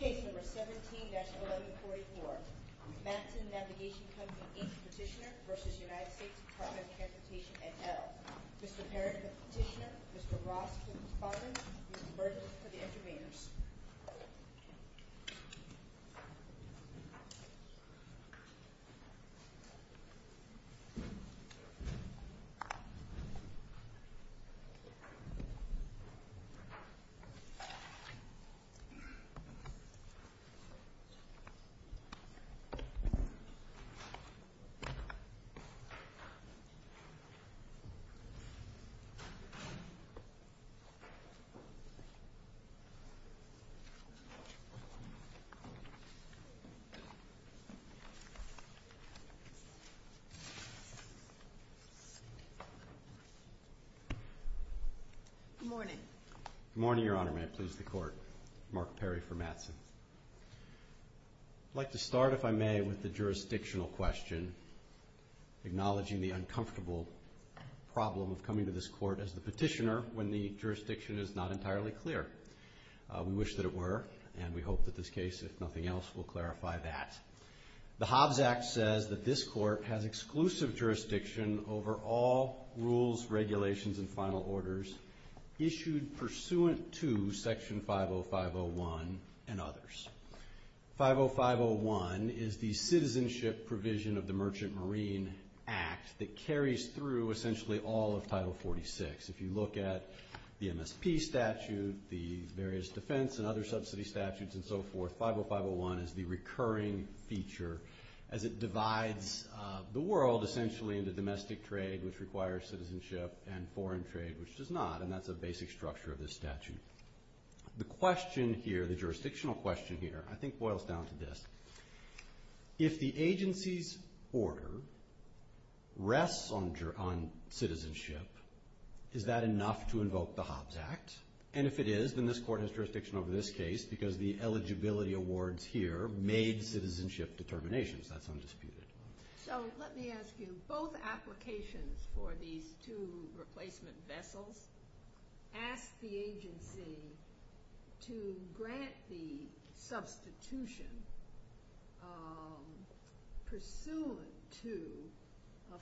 Case number 17-1144, Matson Navigation Company, Inc. Petitioner v. United States Department of Transportation, et al. Mr. Perrin for the petitioner, Mr. Ross for the department, and Mr. Burgess for the intervenors. Good morning. Good morning, Your Honor. May it please the Court. Mark Perry for Matson. I'd like to start, if I may, with the jurisdictional question, acknowledging the uncomfortable problem of coming to this Court as the petitioner when the jurisdiction is not entirely clear. We wish that it were, and we hope that this case, if nothing else, will clarify that. The Hobbs Act says that this Court has exclusive jurisdiction over all rules, regulations, and final orders issued pursuant to Section 50501 and others. The various defense and other subsidy statutes and so forth, 50501 is the recurring feature as it divides the world essentially into domestic trade, which requires citizenship, and foreign trade, which does not. And that's a basic structure of this statute. The question here, the jurisdictional question here, I think boils down to this. If the agency's order rests on citizenship, is that enough to invoke the Hobbs Act? And if it is, then this Court has jurisdiction over this case because the eligibility awards here made citizenship determinations. That's undisputed. So let me ask you, both applications for these two replacement vessels ask the agency to grant the substitution pursuant to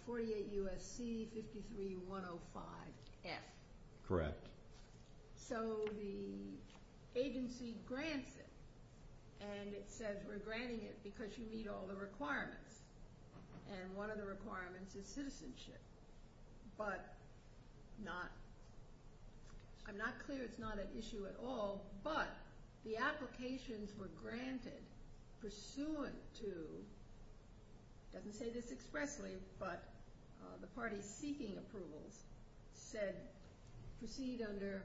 48 U.S.C. 53-105-F. Correct. So the agency grants it, and it says we're granting it because you meet all the requirements, and one of the requirements is citizenship. I'm not clear it's not an issue at all, but the applications were granted pursuant to, it doesn't say this expressly, but the parties seeking approvals said proceed under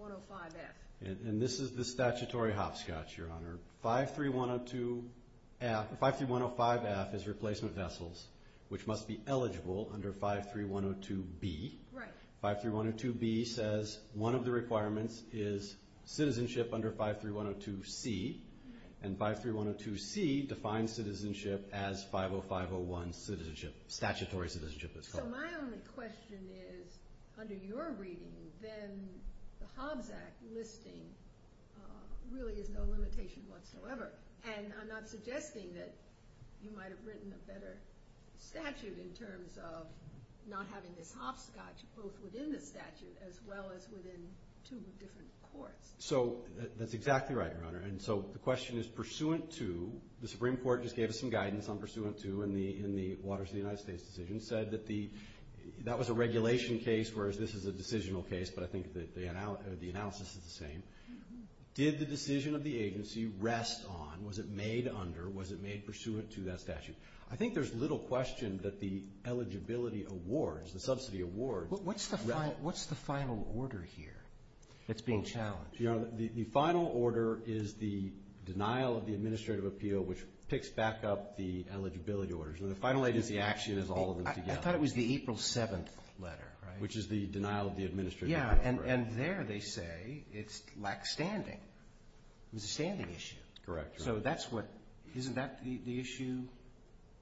105-F. And this is the statutory hopscotch, Your Honor. 53-105-F is replacement vessels, which must be eligible under 53-102-B. Right. 53-102-B says one of the requirements is citizenship under 53-102-C, and 53-102-C defines citizenship as 50501 citizenship, statutory citizenship. So my only question is, under your reading, then the Hobbs Act listing really is no limitation whatsoever. And I'm not suggesting that you might have written a better statute in terms of not having this hopscotch both within the statute as well as within two different courts. So that's exactly right, Your Honor. And so the question is pursuant to, the Supreme Court just gave us some guidance on pursuant to in the Waters of the United States decision, said that the, that was a regulation case, whereas this is a decisional case, but I think the analysis is the same. Did the decision of the agency rest on, was it made under, was it made pursuant to that statute? I think there's little question that the eligibility awards, the subsidy awards. What's the final order here that's being challenged? Your Honor, the final order is the denial of the administrative appeal, which picks back up the eligibility orders. And the final agency action is all of them together. I thought it was the April 7th letter, right? Which is the denial of the administrative appeal. Yeah, and there they say it's lack standing. It was a standing issue. Correct. So that's what, isn't that the issue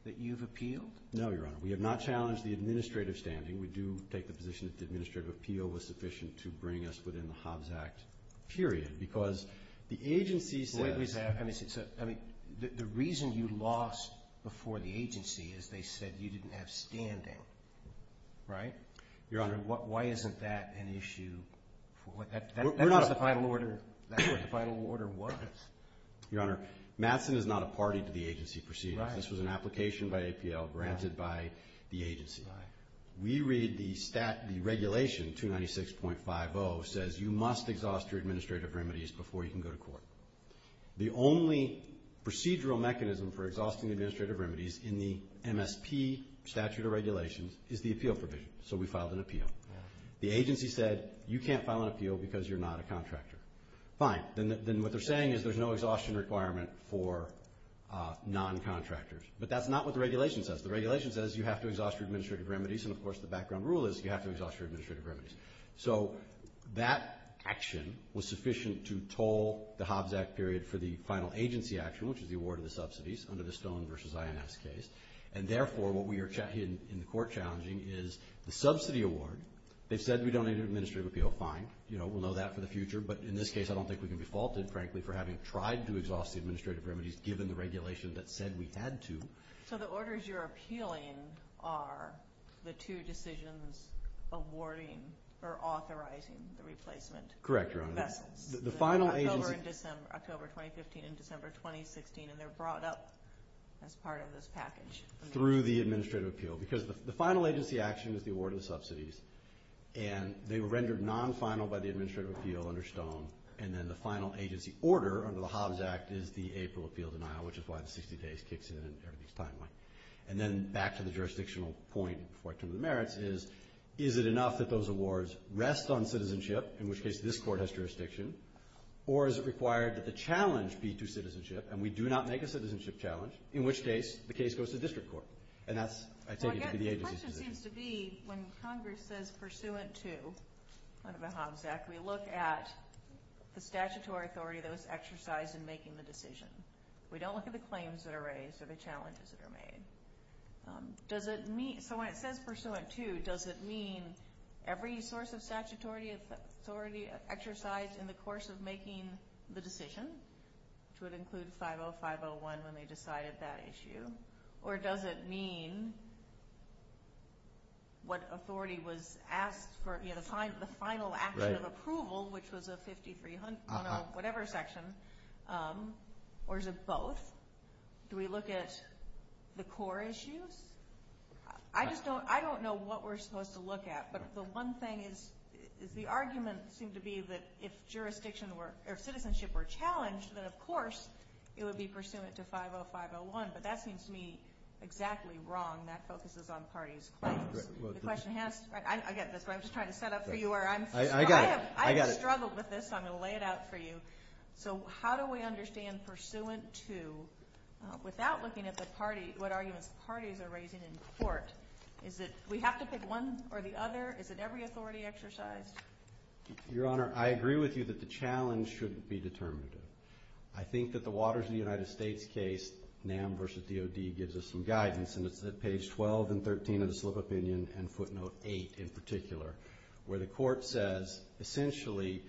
that you've appealed? No, Your Honor. We have not challenged the administrative standing. We do take the position that the administrative appeal was sufficient to bring us within the Hobbs Act period, because the agency said. The reason you lost before the agency is they said you didn't have standing, right? Your Honor. Why isn't that an issue? That was the final order. That's what the final order was. Your Honor, Matson is not a party to the agency proceedings. Right. And this was an application by APL granted by the agency. Right. We read the regulation, 296.50, says you must exhaust your administrative remedies before you can go to court. The only procedural mechanism for exhausting the administrative remedies in the MSP statute of regulations is the appeal provision. So we filed an appeal. Right. The agency said you can't file an appeal because you're not a contractor. Fine. Then what they're saying is there's no exhaustion requirement for noncontractors. But that's not what the regulation says. The regulation says you have to exhaust your administrative remedies, and, of course, the background rule is you have to exhaust your administrative remedies. So that action was sufficient to toll the Hobbs Act period for the final agency action, which is the award of the subsidies under the Stone v. INS case. And, therefore, what we are in the court challenging is the subsidy award. They've said we don't need an administrative appeal. Fine. We'll know that for the future. But in this case, I don't think we can be faulted, frankly, for having tried to exhaust the administrative remedies given the regulation that said we had to. So the orders you're appealing are the two decisions awarding or authorizing the replacement. Correct, Your Honor. Vessels. The final agency. October 2015 and December 2016, and they're brought up as part of this package. Through the administrative appeal. Because the final agency action is the award of the subsidies, and they were rendered non-final by the administrative appeal under Stone. And then the final agency order under the Hobbs Act is the April appeal denial, which is why the 60 days kicks in and everything's timely. And then back to the jurisdictional point before I turn to the merits is, is it enough that those awards rest on citizenship, in which case this court has jurisdiction, or is it required that the challenge be to citizenship, and we do not make a citizenship challenge, in which case the case goes to district court. And that's, I take it, to be the agency's decision. The question seems to be, when Congress says pursuant to the Hobbs Act, we look at the statutory authority that was exercised in making the decision. We don't look at the claims that are raised or the challenges that are made. So when it says pursuant to, does it mean every source of statutory authority exercised in the course of making the decision, which would include 50501 when they decided that issue, or does it mean what authority was asked for, you know, the final action of approval, which was a 53001 or whatever section, or is it both? Do we look at the core issues? I just don't, I don't know what we're supposed to look at, but the one thing is, is the argument seemed to be that if jurisdiction were, or citizenship were challenged, then of course it would be pursuant to 50501, but that seems to me exactly wrong. That focuses on parties' claims. The question has, I get this, but I'm just trying to set up for you where I'm, I have struggled with this, so I'm going to lay it out for you. So how do we understand pursuant to without looking at the party, what arguments the parties are raising in court? Is it we have to pick one or the other? Is it every authority exercised? Your Honor, I agree with you that the challenge shouldn't be determinative. I think that the Waters v. United States case, NAM v. DOD, gives us some guidance, and it's at page 12 and 13 of the slip opinion, and footnote 8 in particular, where the Court says essentially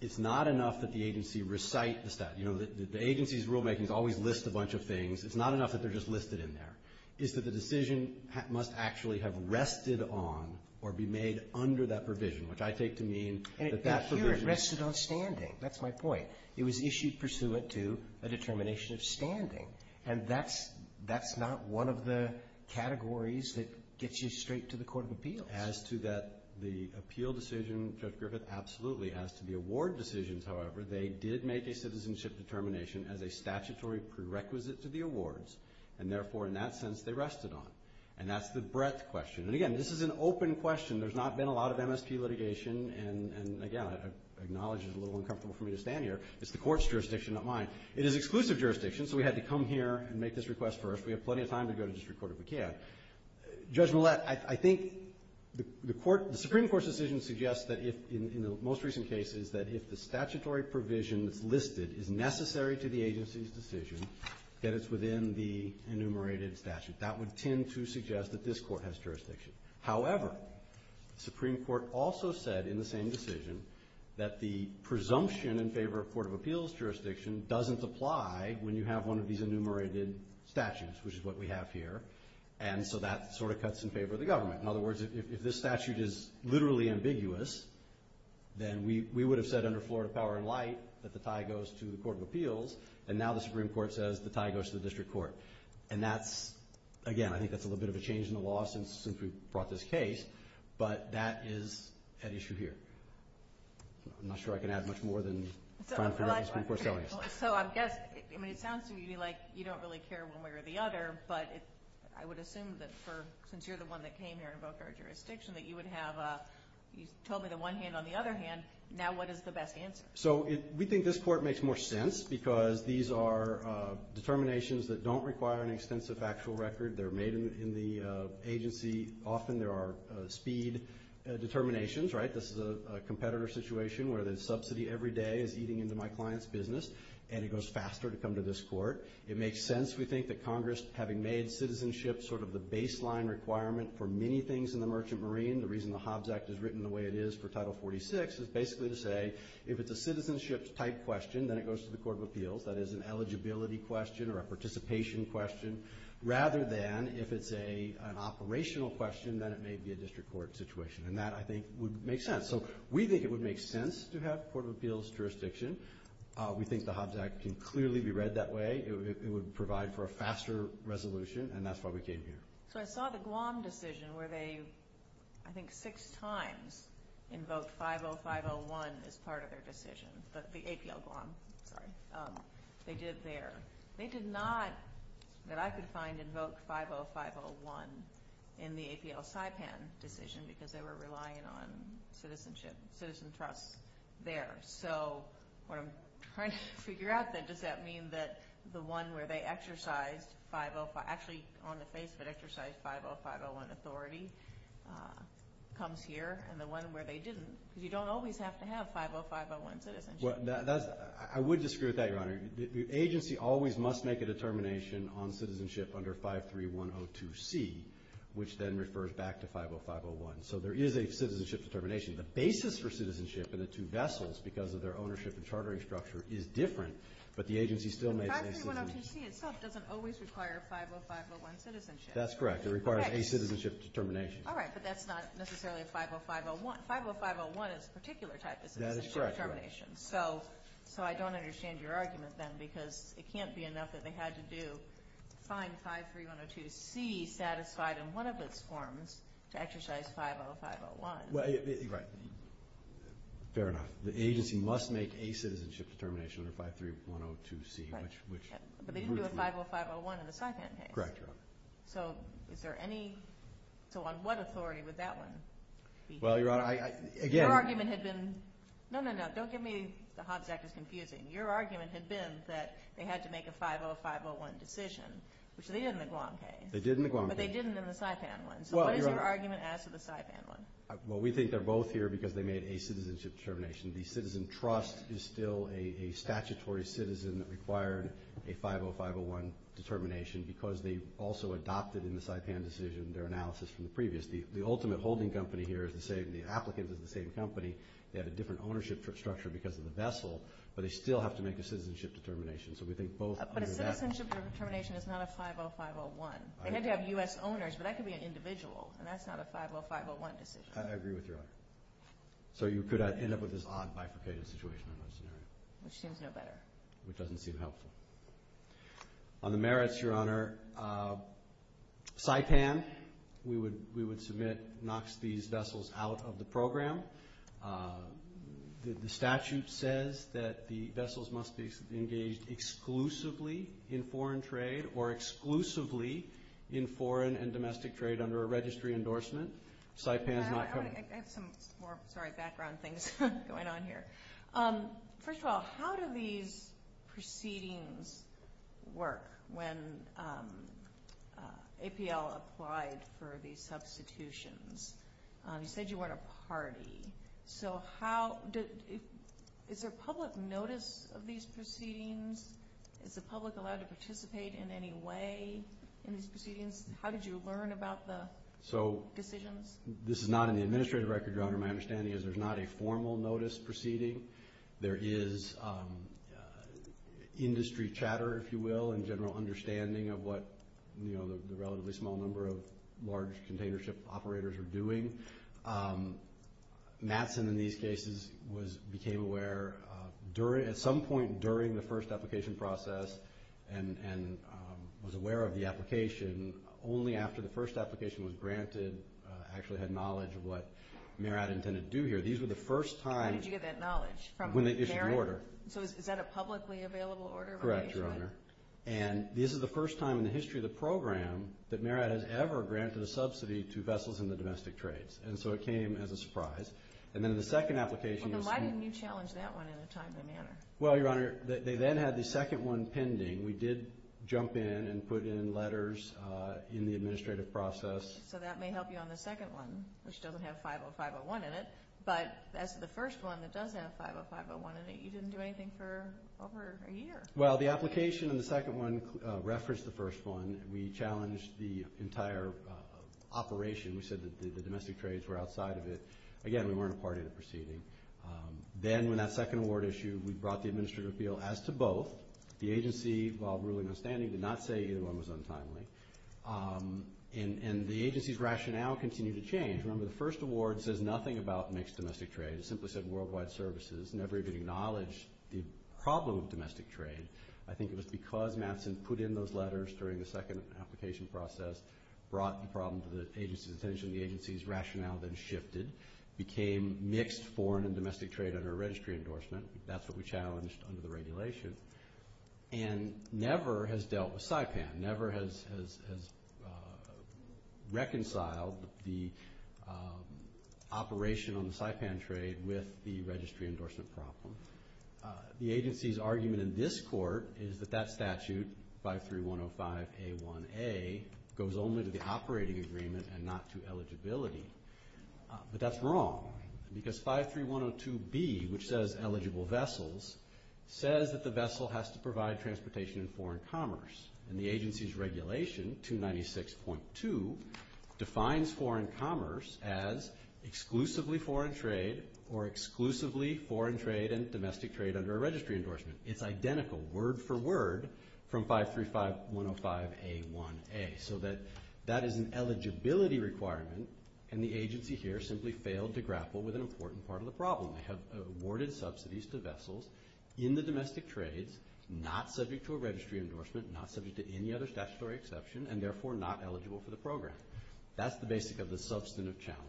it's not enough that the agency recite the statute. You know, the agency's rulemaking is always list a bunch of things. It's not enough that they're just listed in there. It's that the decision must actually have rested on or be made under that provision, which I take to mean that that provision is. And here it rested on standing. That's my point. It was issued pursuant to a determination of standing. And that's not one of the categories that gets you straight to the Court of Appeals. As to the appeal decision, Judge Griffith, absolutely. As to the award decisions, however, they did make a citizenship determination as a statutory prerequisite to the awards, and therefore in that sense they rested on it. And that's the breadth question. And, again, this is an open question. There's not been a lot of MSP litigation, and, again, I acknowledge it's a little uncomfortable for me to stand here. It's the Court's jurisdiction, not mine. It is exclusive jurisdiction, so we had to come here and make this request first. We have plenty of time to go to district court if we can. Judge Millett, I think the Supreme Court's decision suggests that in the most recent cases that if the statutory provision that's listed is necessary to the agency's decision, that it's within the enumerated statute. That would tend to suggest that this Court has jurisdiction. However, the Supreme Court also said in the same decision that the presumption in favor of Court of Appeals jurisdiction doesn't apply when you have one of these enumerated statutes, which is what we have here. And so that sort of cuts in favor of the government. In other words, if this statute is literally ambiguous, then we would have said under Florida power and light that the tie goes to the Court of Appeals, and now the Supreme Court says the tie goes to the district court. And that's, again, I think that's a little bit of a change in the law since we brought this case, but that is at issue here. I'm not sure I can add much more than trying to figure out what the Supreme Court's telling us. So I guess, I mean it sounds to me like you don't really care one way or the other, but I would assume that since you're the one that came here and voked our jurisdiction that you would have, you told me the one hand on the other hand, now what is the best answer? So we think this court makes more sense because these are determinations that don't require an extensive actual record. They're made in the agency. Often there are speed determinations, right? This is a competitor situation where the subsidy every day is eating into my client's business, and it goes faster to come to this court. It makes sense, we think, that Congress, having made citizenship sort of the baseline requirement for many things in the Merchant Marine, the reason the Hobbs Act is written the way it is for Title 46 is basically to say if it's a citizenship type question, then it goes to the Court of Appeals, that is an eligibility question or a participation question, rather than if it's an operational question, then it may be a district court situation, and that I think would make sense. So we think it would make sense to have a Court of Appeals jurisdiction. We think the Hobbs Act can clearly be read that way. It would provide for a faster resolution, and that's why we came here. So I saw the Guam decision where they, I think, six times invoked 50501 as part of their decision, the APL Guam, sorry. They did it there. They did not, that I could find, invoke 50501 in the APL Saipan decision because they were relying on citizenship, citizen trust there. So what I'm trying to figure out then, does that mean that the one where they exercised 50, actually on the face of it exercised 50501 authority comes here, and the one where they didn't? Because you don't always have to have 50501 citizenship. I would disagree with that, Your Honor. The agency always must make a determination on citizenship under 53102C, which then refers back to 50501. So there is a citizenship determination. The basis for citizenship in the two vessels because of their ownership and chartering structure is different, but the agency still makes a citizenship determination. 53102C itself doesn't always require 50501 citizenship. That's correct. It requires a citizenship determination. All right, but that's not necessarily 50501. 50501 is a particular type of citizenship determination. That is correct, Your Honor. So I don't understand your argument then because it can't be enough that they had to do, find 53102C satisfied in one of its forms to exercise 50501. Right. Fair enough. The agency must make a citizenship determination under 53102C. But they didn't do a 50501 in the Saipan case. Correct, Your Honor. So is there any? So on what authority would that one be? Well, Your Honor, again. Your argument had been... No, no, no. Don't get me. The Hobbs Act is confusing. Your argument had been that they had to make a 50501 decision, which they did in the Guam case. They did in the Guam case. But they didn't in the Saipan one. So what is your argument as to the Saipan one? Well, we think they're both here because they made a citizenship determination. The citizen trust is still a statutory citizen that required a 50501 determination because they also adopted in the Saipan decision their analysis from the previous. The ultimate holding company here is the same. The applicant is the same company. They have a different ownership structure because of the vessel. But they still have to make a citizenship determination. So we think both... But a citizenship determination is not a 50501. They had to have U.S. owners, but that could be an individual. And that's not a 50501 decision. I agree with you, Your Honor. So you could end up with this odd, bifurcated situation in that scenario. Which seems no better. Which doesn't seem helpful. On the merits, Your Honor, Saipan, we would submit, knocks these vessels out of the program. The statute says that the vessels must be engaged exclusively in foreign trade or exclusively in foreign and domestic trade under a registry endorsement. Saipan is not... I have some more background things going on here. First of all, how do these proceedings work when APL applied for these substitutions? You said you weren't a party. So is there public notice of these proceedings? Is the public allowed to participate in any way in these proceedings? How did you learn about the decisions? This is not in the administrative record, Your Honor. My understanding is there's not a formal notice proceeding. There is industry chatter, if you will, and general understanding of what the relatively small number of large container ship operators are doing. Matson, in these cases, became aware at some point during the first application process and was aware of the application only after the first application was granted actually had knowledge of what MERAD intended to do here. These were the first time... How did you get that knowledge? When they issued the order. So is that a publicly available order? Correct, Your Honor. And this is the first time in the history of the program that MERAD has ever granted a subsidy to vessels in the domestic trades. And so it came as a surprise. And then in the second application... Well, then why didn't you challenge that one in a timely manner? Well, Your Honor, they then had the second one pending. We did jump in and put in letters in the administrative process. So that may help you on the second one, which doesn't have 50501 in it. But as to the first one that does have 50501 in it, you didn't do anything for over a year. Well, the application in the second one referenced the first one. We challenged the entire operation. We said that the domestic trades were outside of it. Again, we weren't a part of the proceeding. Then in that second award issue, we brought the administrative appeal as to both. The agency, while ruling outstanding, did not say either one was untimely. And the agency's rationale continued to change. Remember, the first award says nothing about mixed domestic trade. It simply said worldwide services. It never even acknowledged the problem of domestic trade. I think it was because Mattson put in those letters during the second application process brought the problem to the agency's attention. The agency's rationale then shifted, became mixed foreign and domestic trade under a registry endorsement. That's what we challenged under the regulation. And never has dealt with SIPAN, never has reconciled the operation on the SIPAN trade with the registry endorsement problem. The agency's argument in this court is that that statute, 53105A1A, goes only to the operating agreement and not to eligibility. But that's wrong because 53102B, which says eligible vessels, says that the vessel has to provide transportation and foreign commerce. And the agency's regulation, 296.2, defines foreign commerce as exclusively foreign trade or exclusively foreign trade and domestic trade under a registry endorsement. It's identical word for word from 535105A1A. So that is an eligibility requirement, and the agency here simply failed to grapple with an important part of the problem. They have awarded subsidies to vessels in the domestic trades, not subject to a registry endorsement, not subject to any other statutory exception, and therefore not eligible for the program. That's the basic of the substantive challenge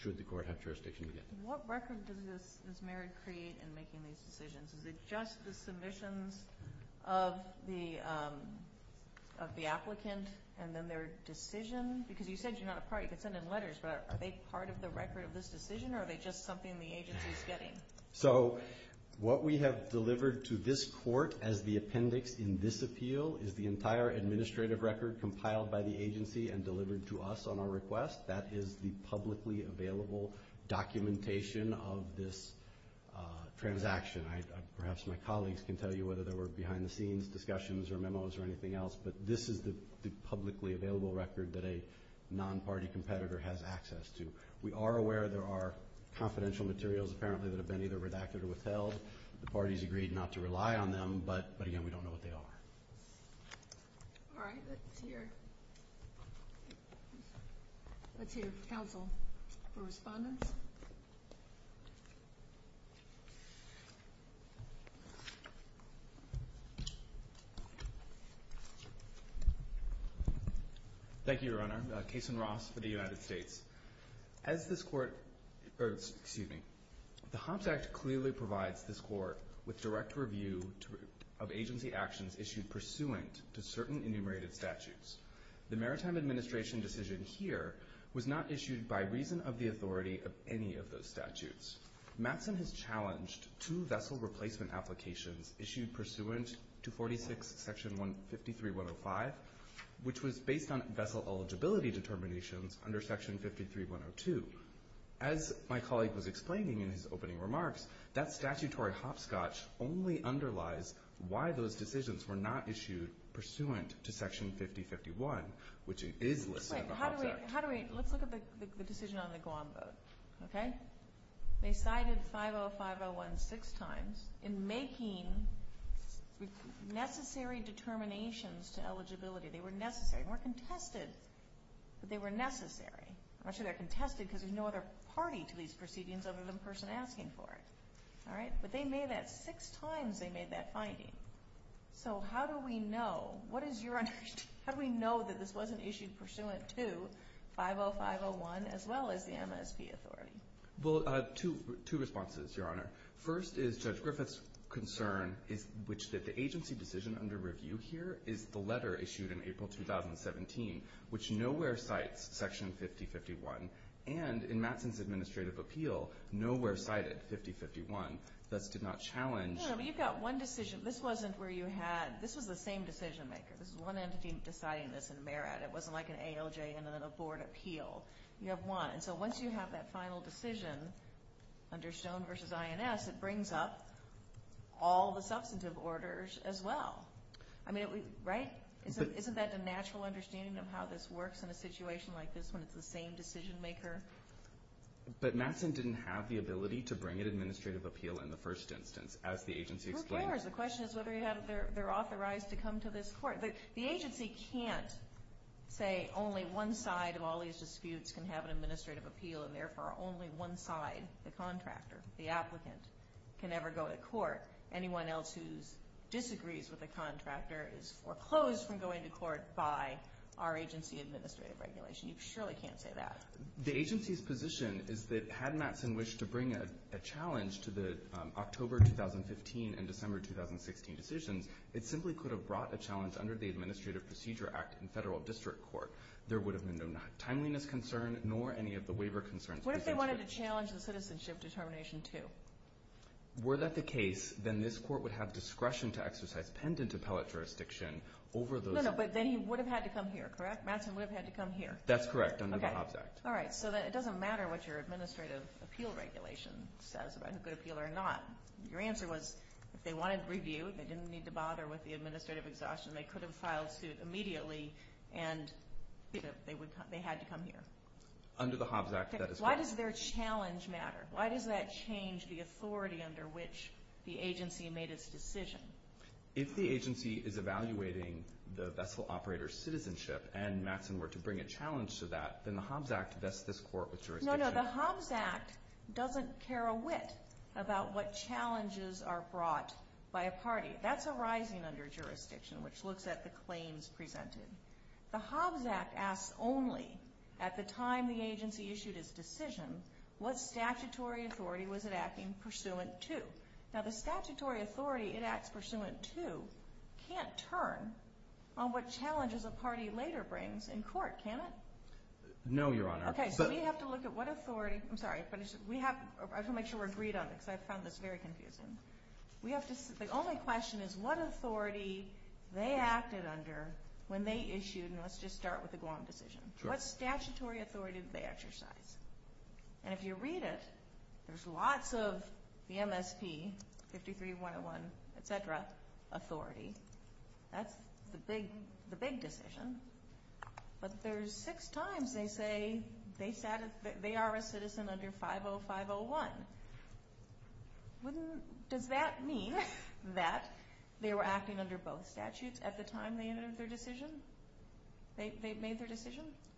should the court have jurisdiction again. What record does Ms. Merritt create in making these decisions? Is it just the submissions of the applicant and then their decision? Because you said you're not a part. You could send in letters, but are they part of the record of this decision or are they just something the agency's getting? So what we have delivered to this court as the appendix in this appeal is the entire administrative record compiled by the agency and delivered to us on our request. That is the publicly available documentation of this transaction. Perhaps my colleagues can tell you whether there were behind-the-scenes discussions or memos or anything else, but this is the publicly available record that a non-party competitor has access to. We are aware there are confidential materials, apparently, that have been either redacted or withheld. The parties agreed not to rely on them, but, again, we don't know what they are. All right. Let's hear counsel for respondence. Thank you, Your Honor. Cason Ross for the United States. As this court or, excuse me, the Hobbs Act clearly provides this court with direct review of agency actions issued pursuant to certain enumerated statutes. The Maritime Administration decision here was not issued by reason of the authority of any of those statutes. Matson has challenged two vessel replacement applications issued pursuant to 46 Section 153.105, which was based on vessel eligibility determinations under Section 53.102. As my colleague was explaining in his opening remarks, that statutory hopscotch only underlies why those decisions were not issued pursuant to Section 50.51, which is listed in the Hobbs Act. Wait. How do we – let's look at the decision on the Guam vote, okay? They cited 50.501 six times in making necessary determinations to eligibility. They were necessary. They weren't contested, but they were necessary. Actually, they're contested because there's no other party to these proceedings other than the person asking for it. All right. But they made that – six times they made that finding. So how do we know – what is your – how do we know that this wasn't issued pursuant to 50.501 as well as the MSP authority? Well, two responses, Your Honor. First is Judge Griffith's concern is – which the agency decision under review here is the letter issued in April 2017, which nowhere cites Section 50.51. And in Mattson's administrative appeal, nowhere cited 50.51. Thus did not challenge – No, but you've got one decision. This wasn't where you had – this was the same decision maker. This was one entity deciding this in Merritt. It wasn't like an ALJ and then a board appeal. You have one. And so once you have that final decision under Stone v. INS, it brings up all the substantive orders as well. I mean, right? Isn't that a natural understanding of how this works in a situation like this when it's the same decision maker? But Mattson didn't have the ability to bring an administrative appeal in the first instance, as the agency explained. Who cares? The question is whether they're authorized to come to this court. The agency can't say only one side of all these disputes can have an administrative appeal and therefore only one side, the contractor, the applicant, can ever go to court. Anyone else who disagrees with the contractor is foreclosed from going to court by our agency administrative regulation. You surely can't say that. The agency's position is that had Mattson wished to bring a challenge to the October 2015 and December 2016 decisions, it simply could have brought a challenge under the Administrative Procedure Act in federal district court. There would have been no timeliness concern nor any of the waiver concerns. What if they wanted to challenge the citizenship determination too? Were that the case, then this court would have discretion to exercise pendant appellate jurisdiction over those. No, no, but then he would have had to come here, correct? Mattson would have had to come here. That's correct, under the Hobbs Act. All right, so it doesn't matter what your administrative appeal regulation says about who could appeal or not. Your answer was if they wanted review, they didn't need to bother with the administrative exhaustion, they could have filed suit immediately, and they had to come here. Under the Hobbs Act, that is correct. Why does their challenge matter? Why does that change the authority under which the agency made its decision? If the agency is evaluating the vessel operator's citizenship and Mattson were to bring a challenge to that, then the Hobbs Act vests this court with jurisdiction. No, no, the Hobbs Act doesn't care a whit about what challenges are brought by a party. That's arising under jurisdiction, which looks at the claims presented. The Hobbs Act asks only at the time the agency issued its decision what statutory authority was it acting pursuant to. Now, the statutory authority it acts pursuant to can't turn on what challenges a party later brings in court, can it? No, Your Honor. Okay, so we have to look at what authority. I'm sorry, I have to make sure we're agreed on this because I found this very confusing. The only question is what authority they acted under when they issued, and let's just start with the Guam decision. What statutory authority did they exercise? And if you read it, there's lots of the MSP, 53-101, et cetera, authority. That's the big decision. But there's six times they say they are a citizen under 50-501. Does that mean that they were acting under both statutes at the time they made their decision?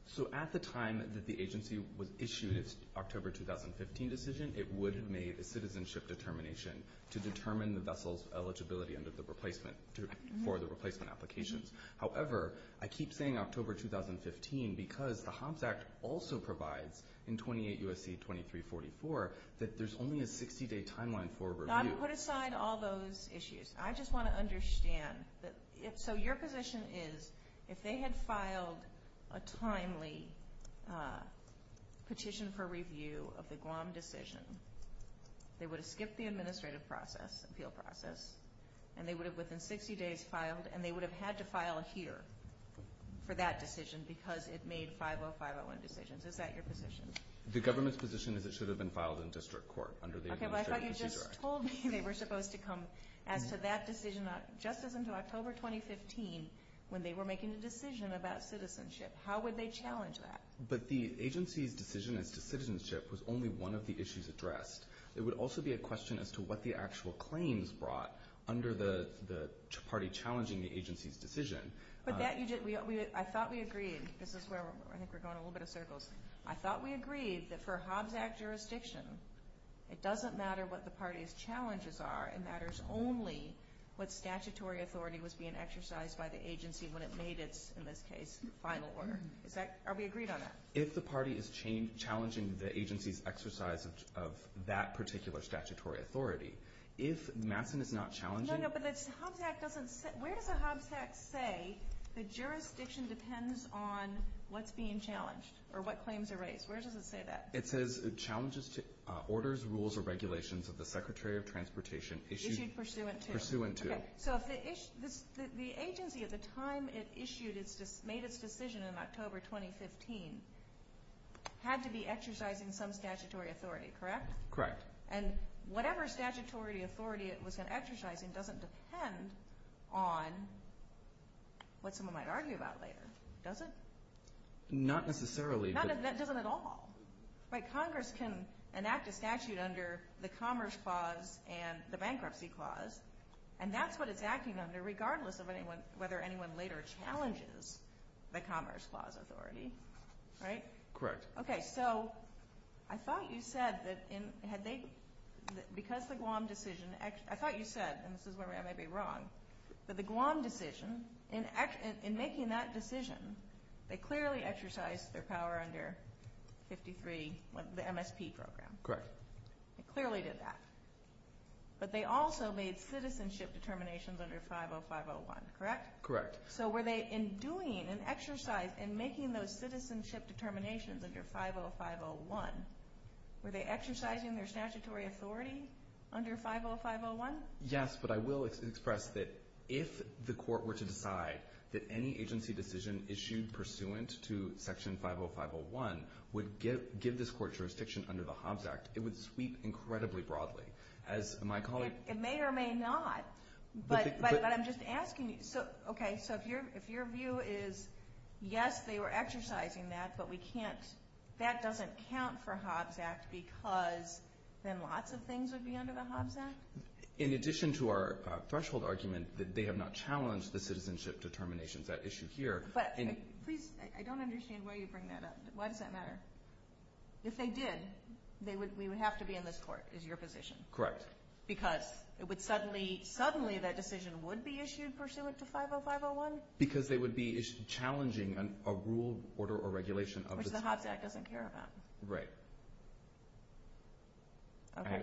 So at the time that the agency issued its October 2015 decision, it would have made a citizenship determination to determine the vessel's eligibility for the replacement applications. However, I keep saying October 2015 because the HOMS Act also provides in 28 U.S.C. 2344 that there's only a 60-day timeline for review. Now, put aside all those issues. I just want to understand. So your position is if they had filed a timely petition for review of the Guam decision, they would have skipped the administrative process, appeal process, and they would have within 60 days filed, and they would have had to file here for that decision because it made 50-501 decisions. Is that your position? The government's position is it should have been filed in district court under the administrative procedure. Okay, but I thought you just told me they were supposed to come as to that decision just as until October 2015 when they were making a decision about citizenship. How would they challenge that? But the agency's decision as to citizenship was only one of the issues addressed. It would also be a question as to what the actual claims brought under the party challenging the agency's decision. But I thought we agreed. This is where I think we're going a little bit in circles. I thought we agreed that for a HOMS Act jurisdiction, it doesn't matter what the party's challenges are. It matters only what statutory authority was being exercised by the agency when it made its, in this case, final order. Are we agreed on that? If the party is challenging the agency's exercise of that particular statutory authority, if Masson is not challenging No, no, but the HOMS Act doesn't say, where does the HOMS Act say the jurisdiction depends on what's being challenged or what claims are raised? Where does it say that? It says challenges to orders, rules, or regulations of the Secretary of Transportation issued Pursuant to. Pursuant to. So the agency at the time it issued its, made its decision in October 2015 had to be exercising some statutory authority, correct? Correct. And whatever statutory authority it was going to exercise doesn't depend on what someone might argue about later, does it? Not necessarily. That doesn't at all. Congress can enact a statute under the Commerce Clause and the Bankruptcy Clause and that's what it's acting under regardless of whether anyone later challenges the Commerce Clause authority, right? Correct. Okay, so I thought you said that because the Guam decision, I thought you said, and this is where I may be wrong, that the Guam decision, in making that decision, they clearly exercised their power under 53, the MSP program. Correct. They clearly did that. But they also made citizenship determinations under 50501, correct? Correct. So were they in doing an exercise in making those citizenship determinations under 50501, were they exercising their statutory authority under 50501? Yes, but I will express that if the court were to decide that any agency decision issued pursuant to Section 50501 would give this court jurisdiction under the Hobbs Act, it would sweep incredibly broadly. It may or may not, but I'm just asking you. Okay, so if your view is yes, they were exercising that, but that doesn't count for Hobbs Act because then lots of things would be under the Hobbs Act? In addition to our threshold argument that they have not challenged the citizenship determinations at issue here. Please, I don't understand why you bring that up. Why does that matter? If they did, we would have to be in this court, is your position. Correct. Because suddenly that decision would be issued pursuant to 50501? Because they would be challenging a rule, order, or regulation. Which the Hobbs Act doesn't care about. Right.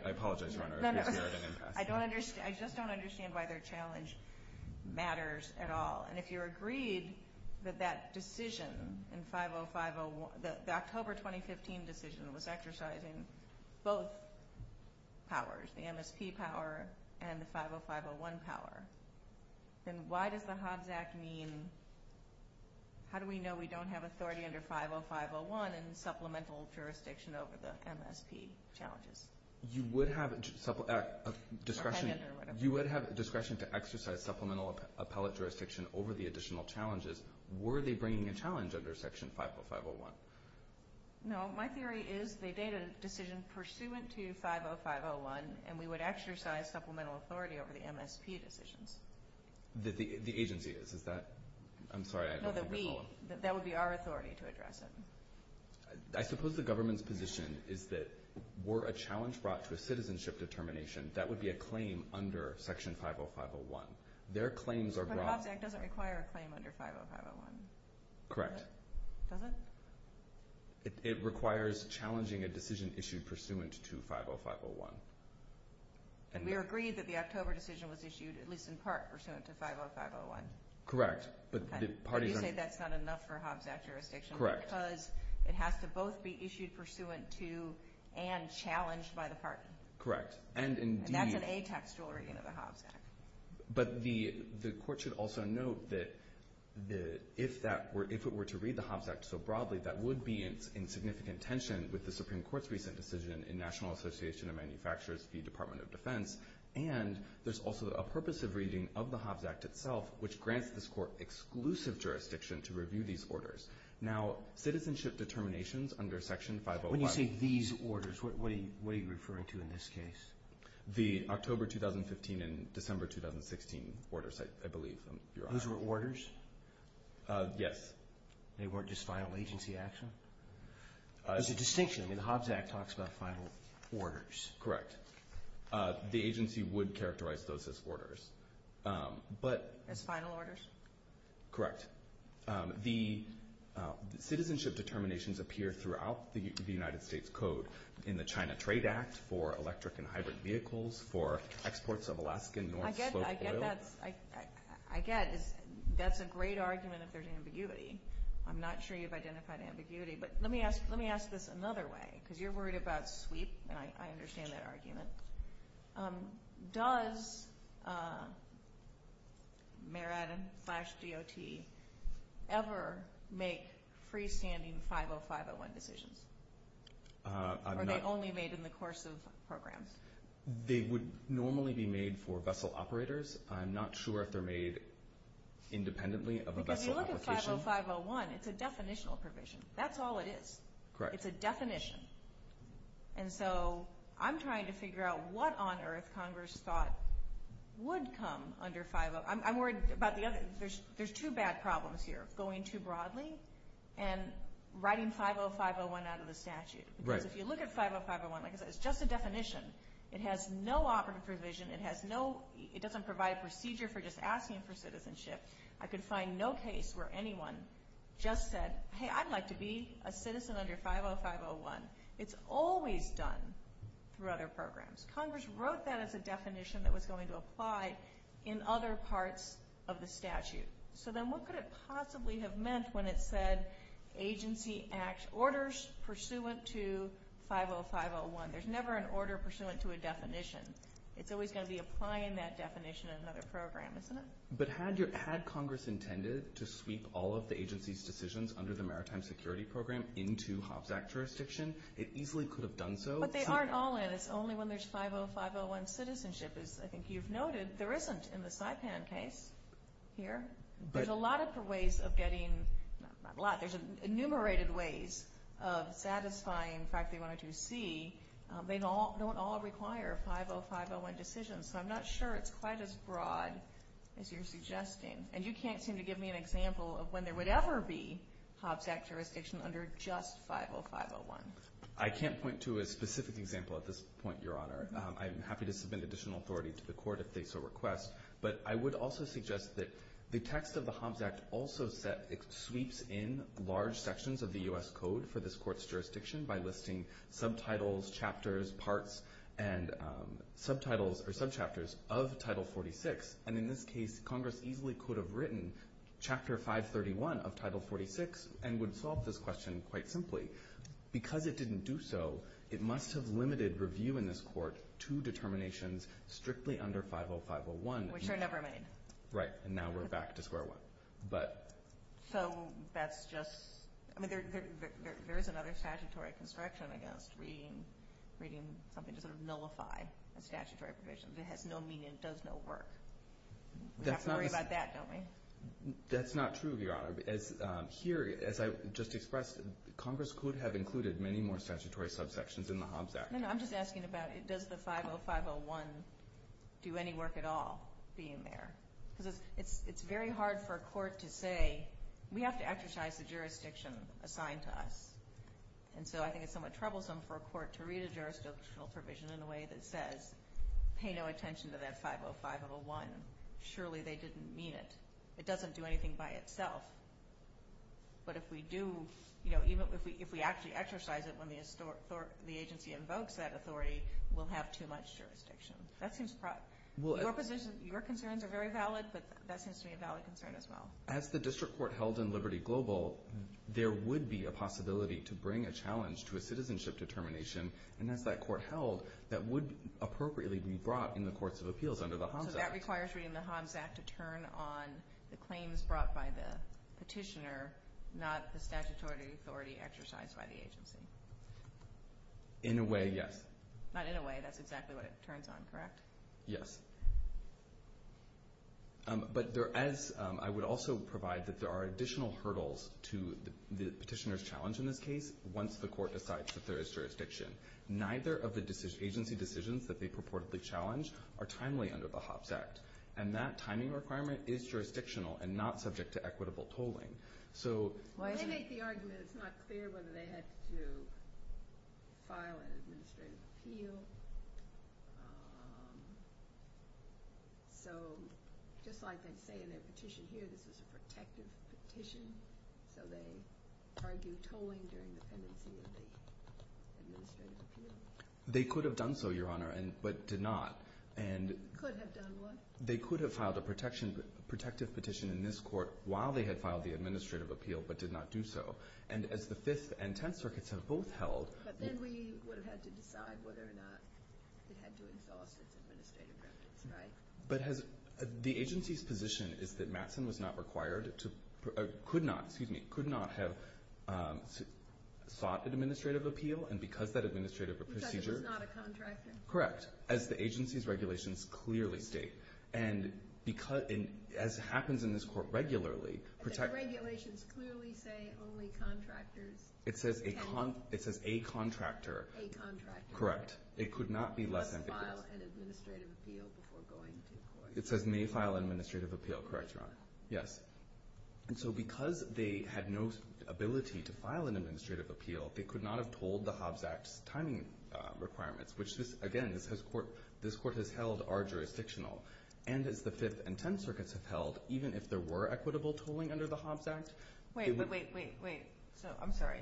I apologize, Your Honor. I just don't understand why their challenge matters at all. If you agreed that that decision, the October 2015 decision was exercising both powers, the MSP power and the 50501 power, then why does the Hobbs Act mean, how do we know we don't have authority under 50501 and supplemental jurisdiction over the MSP challenges? You would have discretion to exercise supplemental appellate jurisdiction over the additional challenges. Were they bringing a challenge under section 50501? No. My theory is they made a decision pursuant to 50501, and we would exercise supplemental authority over the MSP decisions. The agency is, is that? I'm sorry. No, the we. That would be our authority to address it. I suppose the government's position is that were a challenge brought to a citizenship determination, that would be a claim under section 50501. Their claims are brought. But the Hobbs Act doesn't require a claim under 50501. Correct. Does it? It requires challenging a decision issued pursuant to 50501. And we agreed that the October decision was issued, at least in part, pursuant to 50501. Correct. But the parties are. You say that's not enough for Hobbs Act jurisdiction. Correct. Because it has to both be issued pursuant to and challenged by the partner. Correct. And indeed. But the, the court should also note that the, if that were, if it were to read the Hobbs Act so broadly, that would be in significant tension with the Supreme Court's recent decision in National Association of Manufacturers, the Department of Defense. And there's also a purpose of reading of the Hobbs Act itself, which grants this court exclusive jurisdiction to review these orders. Now, citizenship determinations under section 50. When you say these orders, what are you referring to in this case? The October 2015 and December 2016 orders, I believe. Those were orders? Yes. They weren't just final agency action? There's a distinction. I mean, the Hobbs Act talks about final orders. Correct. The agency would characterize those as orders. But. As final orders? Correct. The citizenship determinations appear throughout the United States code in the China Trade Act for electric and hybrid vehicles, for exports of Alaskan North Slope oil. I get that. I get that. That's a great argument if there's ambiguity. I'm not sure you've identified ambiguity. But let me ask, let me ask this another way. Because you're worried about sweep. And I understand that argument. Does Mayor Adam slash DOT ever make freestanding 50501 decisions? Or are they only made in the course of programs? They would normally be made for vessel operators. I'm not sure if they're made independently of a vessel application. Because you look at 50501, it's a definitional provision. That's all it is. Correct. It's a definition. And so I'm trying to figure out what on earth Congress thought would come under 50501. I'm worried about the other. There's two bad problems here. Going too broadly. And writing 50501 out of the statute. Because if you look at 50501, like I said, it's just a definition. It has no operative provision. It doesn't provide a procedure for just asking for citizenship. I could find no case where anyone just said, hey, I'd like to be a citizen under 50501. It's always done through other programs. Congress wrote that as a definition that was going to apply in other parts of the statute. So then what could it possibly have meant when it said agency act orders pursuant to 50501? There's never an order pursuant to a definition. It's always going to be applying that definition in another program, isn't it? But had Congress intended to sweep all of the agency's decisions under the Maritime Security Program into Hobbs Act jurisdiction, it easily could have done so. But they aren't all in. It's only when there's 50501 citizenship, as I think you've noted. There isn't in the Saipan case here. There's a lot of ways of getting ‑‑ not a lot. There's enumerated ways of satisfying practically 102C. They don't all require 50501 decisions. So I'm not sure it's quite as broad as you're suggesting. And you can't seem to give me an example of when there would ever be Hobbs Act jurisdiction under just 50501. I can't point to a specific example at this point, Your Honor. I'm happy to submit additional authority to the court if they so request. But I would also suggest that the text of the Hobbs Act also sweeps in large sections of the U.S. code for this court's jurisdiction by listing subtitles, chapters, parts, and subtitles or subchapters of Title 46. And in this case, Congress easily could have written Chapter 531 of Title 46 and would solve this question quite simply. Because it didn't do so, it must have limited review in this court to determinations strictly under 50501. Which are never made. Right. And now we're back to square one. So that's just ‑‑ I mean, there is another statutory construction, I guess, reading something to sort of nullify a statutory provision that has no meaning and does no work. We have to worry about that, don't we? That's not true, Your Honor. Here, as I just expressed, Congress could have included many more statutory subsections in the Hobbs Act. I'm just asking about, does the 50501 do any work at all being there? Because it's very hard for a court to say, we have to exercise the jurisdiction assigned to us. And so I think it's somewhat troublesome for a court to read a jurisdictional provision in a way that says, pay no attention to that 50501. Surely they didn't mean it. It doesn't do anything by itself. But if we do, you know, if we actually exercise it when the agency invokes that authority, we'll have too much jurisdiction. Your concerns are very valid, but that seems to be a valid concern as well. As the district court held in Liberty Global, there would be a possibility to bring a challenge to a citizenship determination. And as that court held, that would appropriately be brought in the courts of appeals under the Hobbs Act. So that requires reading the Hobbs Act to turn on the claims brought by the petitioner, not the statutory authority exercised by the agency. In a way, yes. Not in a way. That's exactly what it turns on, correct? Yes. But I would also provide that there are additional hurdles to the petitioner's challenge in this case once the court decides that there is jurisdiction. Neither of the agency decisions that they purportedly challenge are timely under the Hobbs Act. And that timing requirement is jurisdictional and not subject to equitable tolling. They make the argument it's not clear whether they have to file an administrative appeal. So just like they say in their petition here, this is a protective petition. So they argue tolling during the pendency of the administrative appeal. They could have done so, Your Honor, but did not. Could have done what? They could have filed a protective petition in this court while they had filed the administrative appeal but did not do so. And as the Fifth and Tenth Circuits have both held. But then we would have had to decide whether or not it had to exhaust its administrative records, right? The agency's position is that Mattson could not have sought an administrative appeal and because that administrative procedure Because it was not a contractor. Correct. As the agency's regulations clearly state. And as happens in this court regularly The regulations clearly say only contractors can It says a contractor. A contractor. Correct. Must file an administrative appeal before going to court. It says may file an administrative appeal. Correct, Your Honor. Yes. And so because they had no ability to file an administrative appeal they could not have tolled the Hobbs Act's timing requirements which, again, this court has held are jurisdictional. And as the Fifth and Tenth Circuits have held even if there were equitable tolling under the Hobbs Act Wait, wait, wait, wait. I'm sorry.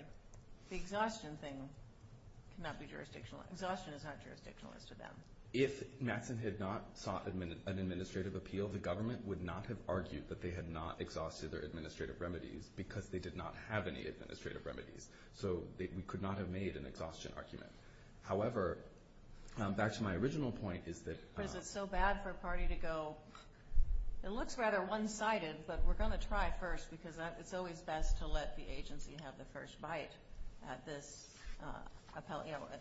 The exhaustion thing cannot be jurisdictional. Exhaustion is not jurisdictional as to them. If Mattson had not sought an administrative appeal the government would not have argued that they had not exhausted their administrative remedies because they did not have any administrative remedies. So we could not have made an exhaustion argument. However, back to my original point is that Because it's so bad for a party to go It looks rather one-sided but we're going to try first because it's always best to let the agency have the first bite at this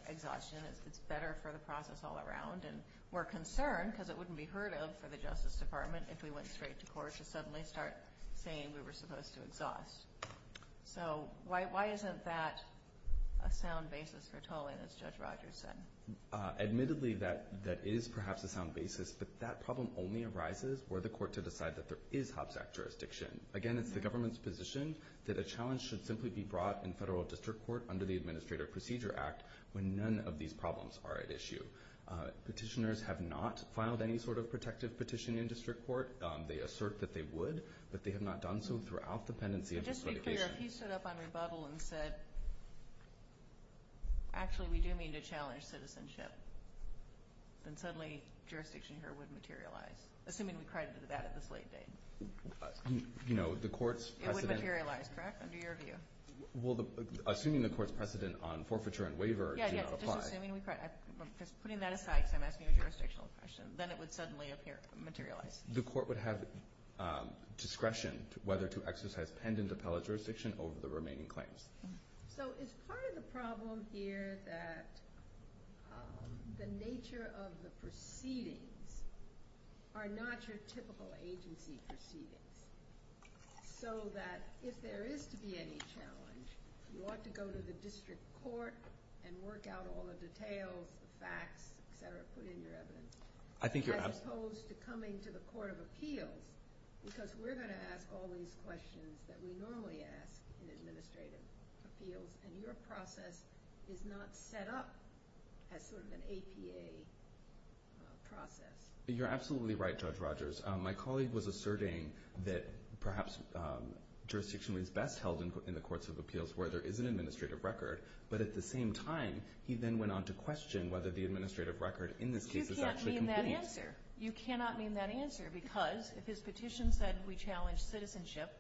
exhaustion. It's better for the process all around. And we're concerned because it wouldn't be heard of for the Justice Department if we went straight to court to suddenly start saying we were supposed to exhaust. So why isn't that a sound basis for tolling as Judge Rogers said? Admittedly, that is perhaps a sound basis but that problem only arises where the court to decide that there is Hobbs Act jurisdiction. Again, it's the government's position that a challenge should simply be brought in federal district court under the Administrative Procedure Act when none of these problems are at issue. Petitioners have not filed any sort of protective petition in district court. They assert that they would but they have not done so throughout the pendency of this litigation. Just to be clear, if he stood up on rebuttal and said actually we do mean to challenge citizenship then suddenly jurisdiction here wouldn't materialize. Assuming we cried to the bat at this late date. It wouldn't materialize, correct? Under your view? Assuming the court's precedent on forfeiture and waiver did not apply. Just assuming we cried. Putting that aside because I'm asking a jurisdictional question. Then it would suddenly materialize. The court would have discretion whether to exercise pendent appellate jurisdiction over the remaining claims. So is part of the problem here that the nature of the proceedings are not your typical agency proceedings. So that if there is to be any challenge you ought to go to the district court and work out all the details, the facts, etc. Put in your evidence. As opposed to coming to the court of appeals because we're going to ask all these questions that we normally ask in administrative appeals and your process is not set up as sort of an APA process. You're absolutely right, Judge Rogers. My colleague was asserting that perhaps jurisdiction was best held in the courts of appeals where there is an administrative record but at the same time he then went on to question whether the administrative record in this case is actually complete. You can't mean that answer. You cannot mean that answer because if his petition said we challenge citizenship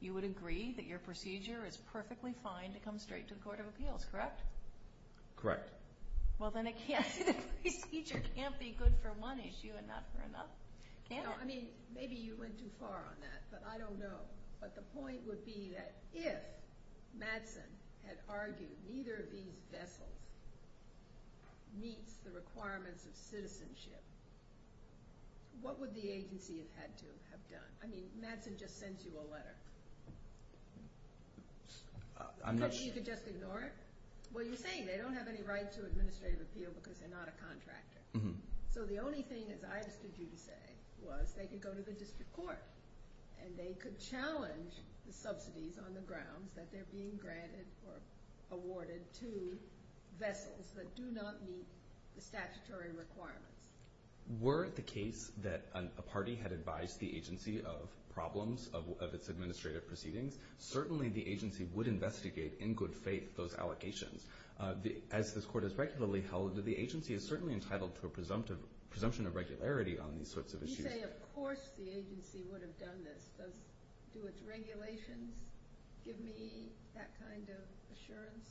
you would agree that your procedure is perfectly fine to come straight to the court of appeals, correct? Correct. Well then the procedure can't be good for one issue and not for another, can it? Maybe you went too far on that, but I don't know. But the point would be that if Madsen had argued neither of these vessels meets the requirements of citizenship what would the agency have had to have done? I'm not sure. You mean you could just ignore it? Well, you're saying they don't have any right to administrative appeal because they're not a contractor. So the only thing, as I understood you to say, was they could go to the district court and they could challenge the subsidies on the grounds that they're being granted or awarded to vessels that do not meet the statutory requirements. Were it the case that a party had advised the agency of problems of its administrative proceedings certainly the agency would investigate in good faith those allegations. As this court has regularly held, the agency is certainly entitled to a presumption of regularity on these sorts of issues. You say of course the agency would have done this. Do its regulations give me that kind of assurance?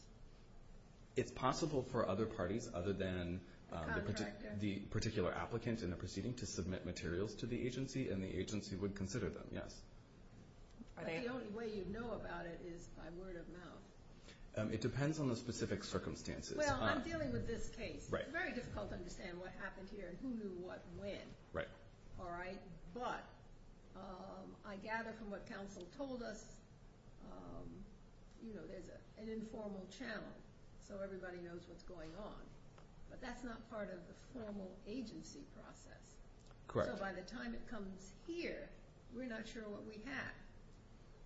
It's possible for other parties other than the particular applicant in the proceeding to submit materials to the agency and the agency would consider them, yes. But the only way you'd know about it is by word of mouth. It depends on the specific circumstances. Well, I'm dealing with this case. It's very difficult to understand what happened here and who knew what when. Right. All right? But I gather from what counsel told us there's an informal channel so everybody knows what's going on. But that's not part of the formal agency process. Correct. So by the time it comes here, we're not sure what we have.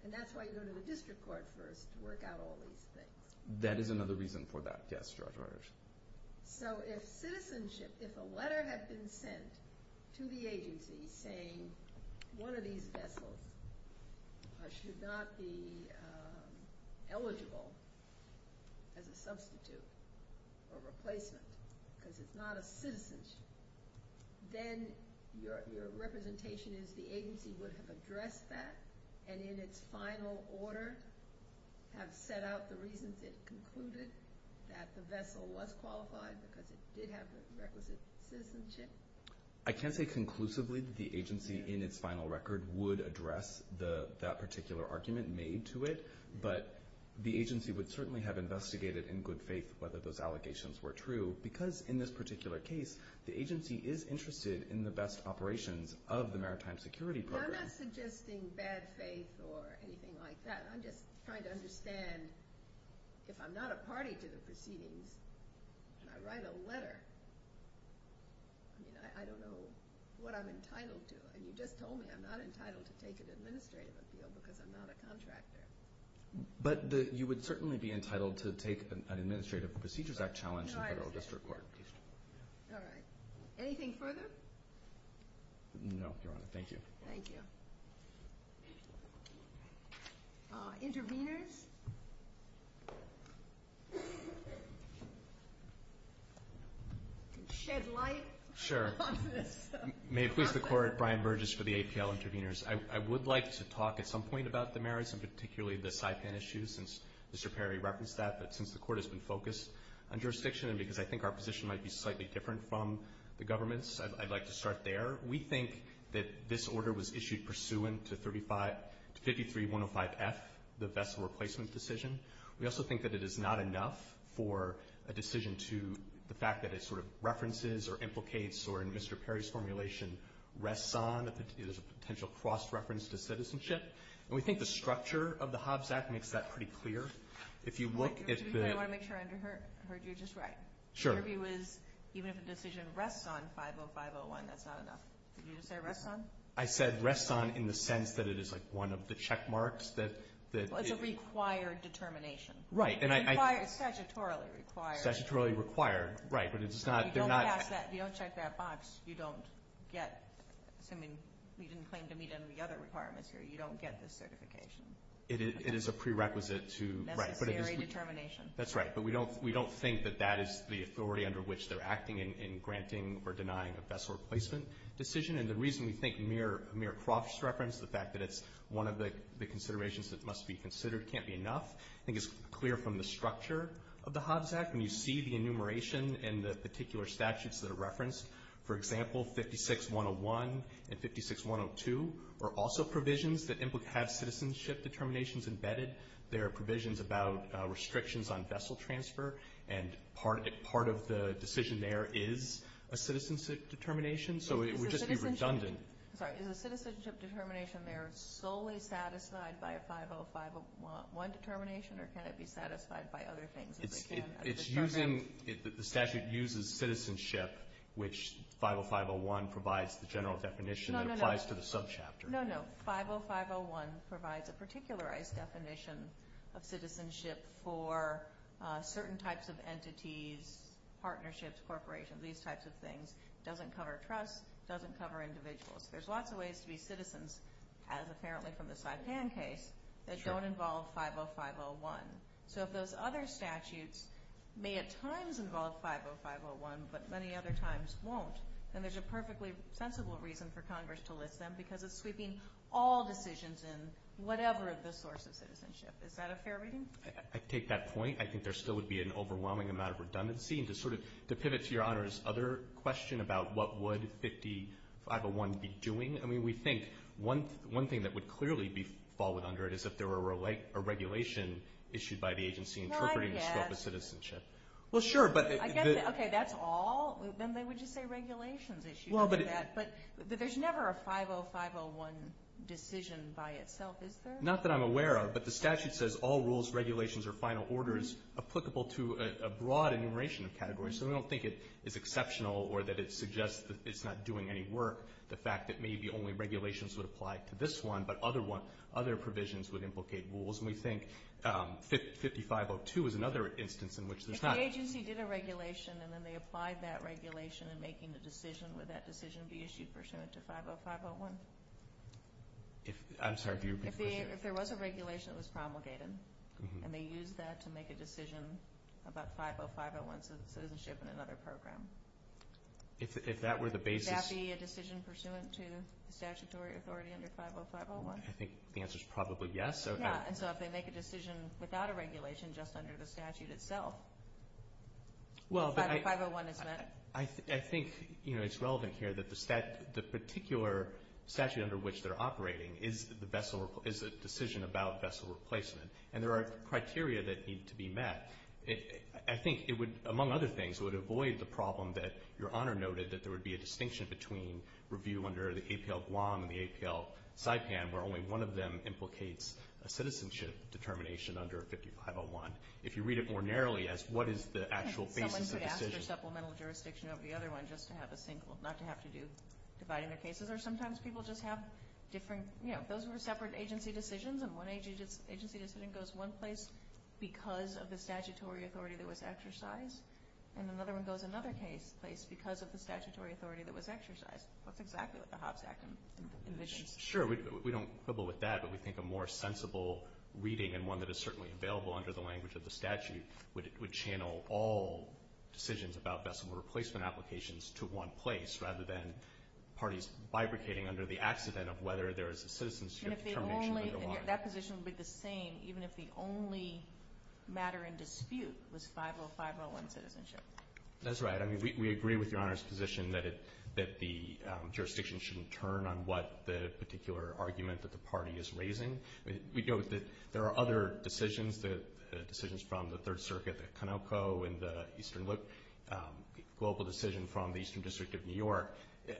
And that's why you go to the district court first to work out all these things. That is another reason for that, yes, Judge Reuters. So if citizenship, if a letter had been sent to the agency saying one of these vessels should not be eligible as a substitute or replacement because it's not a citizenship, then your representation is the agency would have addressed that and in its final order have set out the reasons it concluded that the vessel was qualified because it did have the requisite citizenship? I can't say conclusively that the agency in its final record would address that particular argument made to it, but the agency would certainly have investigated in good faith whether those allegations were true because in this particular case the agency is interested in the best operations of the Maritime Security Program. I'm not suggesting bad faith or anything like that. I'm just trying to understand if I'm not a party to the proceedings and I write a letter, I don't know what I'm entitled to. And you just told me I'm not entitled to take an administrative appeal because I'm not a contractor. But you would certainly be entitled to take an Administrative Procedures Act challenge in federal district court. All right. Anything further? No, Your Honor. Thank you. Thank you. Interveners? Shed light? Sure. May it please the Court. Brian Burgess for the APL Interveners. I would like to talk at some point about the merits and particularly the Saipan issue since Mr. Perry referenced that, but since the Court has been focused on jurisdiction and because I think our position might be slightly different from the government's, I'd like to start there. We think that this order was issued pursuant to 53-105F, the vessel replacement decision. We also think that it is not enough for a decision to the fact that it sort of references or implicates or in Mr. Perry's formulation rests on that there's a potential cross-reference to citizenship. And we think the structure of the Hobbs Act makes that pretty clear. If you look at the I want to make sure I heard you just right. Sure. Your view is even if a decision rests on 50501, that's not enough. Did you just say rests on? I said rests on in the sense that it is like one of the check marks that Well, it's a required determination. Right. It's statutorily required. Statutorily required, right. But it's not If you don't check that box, you don't get, assuming you didn't claim to meet any of the other requirements here, you don't get this certification. It is a prerequisite to Necessary determination. That's right. But we don't think that that is the authority under which they're acting in granting or denying a vessel replacement decision. And the reason we think mere cross-reference, the fact that it's one of the considerations that must be considered, can't be enough. I think it's clear from the structure of the Hobbs Act. When you see the enumeration and the particular statutes that are referenced, for example, 56101 and 56102, are also provisions that have citizenship determinations embedded. They're provisions about restrictions on vessel transfer. And part of the decision there is a citizenship determination. So it would just be redundant. Sorry, is the citizenship determination there solely satisfied by a 50501 determination, or can it be satisfied by other things? It's using, the statute uses citizenship, which 50501 provides the general definition that applies to the subchapter. No, no, 50501 provides a particularized definition of citizenship for certain types of entities, partnerships, corporations, these types of things. It doesn't cover trusts. It doesn't cover individuals. There's lots of ways to be citizens, as apparently from the Saipan case, that don't involve 50501. So if those other statutes may at times involve 50501, but many other times won't, then there's a perfectly sensible reason for Congress to list them, because it's sweeping all decisions in, whatever the source of citizenship. Is that a fair reading? I take that point. I think there still would be an overwhelming amount of redundancy. And to pivot to Your Honor's other question about what would 50501 be doing, I mean, we think one thing that would clearly fall under it is if there were a regulation issued by the agency interpreting the scope of citizenship. Well, I guess. Well, sure. Okay, that's all? Then they would just say regulations issued. But there's never a 50501 decision by itself, is there? Not that I'm aware of, but the statute says all rules, regulations, or final orders applicable to a broad enumeration of categories. So we don't think it's exceptional or that it suggests that it's not doing any work, the fact that maybe only regulations would apply to this one, but other provisions would implicate rules. And we think 5502 is another instance in which there's not. If the agency did a regulation and then they applied that regulation in making the decision, would that decision be issued pursuant to 50501? I'm sorry, could you repeat the question? If there was a regulation that was promulgated and they used that to make a decision about 50501 citizenship in another program. If that were the basis. Would that be a decision pursuant to statutory authority under 50501? I think the answer is probably yes. Yeah, and so if they make a decision without a regulation just under the statute itself, 50501 is meant. I think it's relevant here that the particular statute under which they're operating is a decision about vessel replacement, and there are criteria that need to be met. I think it would, among other things, would avoid the problem that Your Honor noted, that there would be a distinction between review under the APL Guam and the APL Saipan where only one of them implicates a citizenship determination under 50501. If you read it more narrowly as what is the actual basis of the decision. Someone could ask for supplemental jurisdiction over the other one just to have a single, not to have to do dividing their cases, or sometimes people just have different, you know, those were separate agency decisions, and one agency decision goes one place because of the statutory authority that was exercised, and another one goes another place because of the statutory authority that was exercised. That's exactly what the Hobbs Act envisions. Sure, we don't quibble with that, but we think a more sensible reading and one that is certainly available under the language of the statute would channel all decisions about vessel replacement applications to one place rather than parties bifurcating under the accident of whether there is a citizenship determination underlying. That position would be the same even if the only matter in dispute was 50501 citizenship. That's right. I mean, we agree with Your Honor's position that the jurisdiction shouldn't turn on what the particular argument that the party is raising. We know that there are other decisions, decisions from the Third Circuit, the Conoco and the Eastern Global decision from the Eastern District of New York.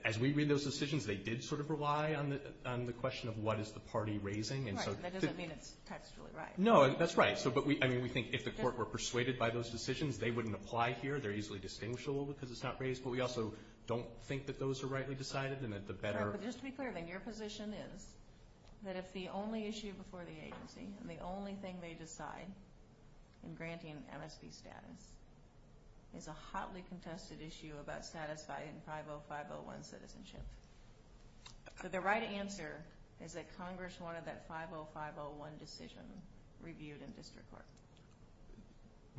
As we read those decisions, they did sort of rely on the question of what is the party raising. Right, but that doesn't mean it's textually right. No, that's right. I mean, we think if the court were persuaded by those decisions, they wouldn't apply here. They're easily distinguishable because it's not raised, but we also don't think that those are rightly decided and that the better... Sure, but just to be clear then, your position is that if the only issue before the agency and the only thing they decide in granting MSP status is a hotly contested issue about satisfying 50501 citizenship, that the right answer is that Congress wanted that 50501 decision reviewed in district court.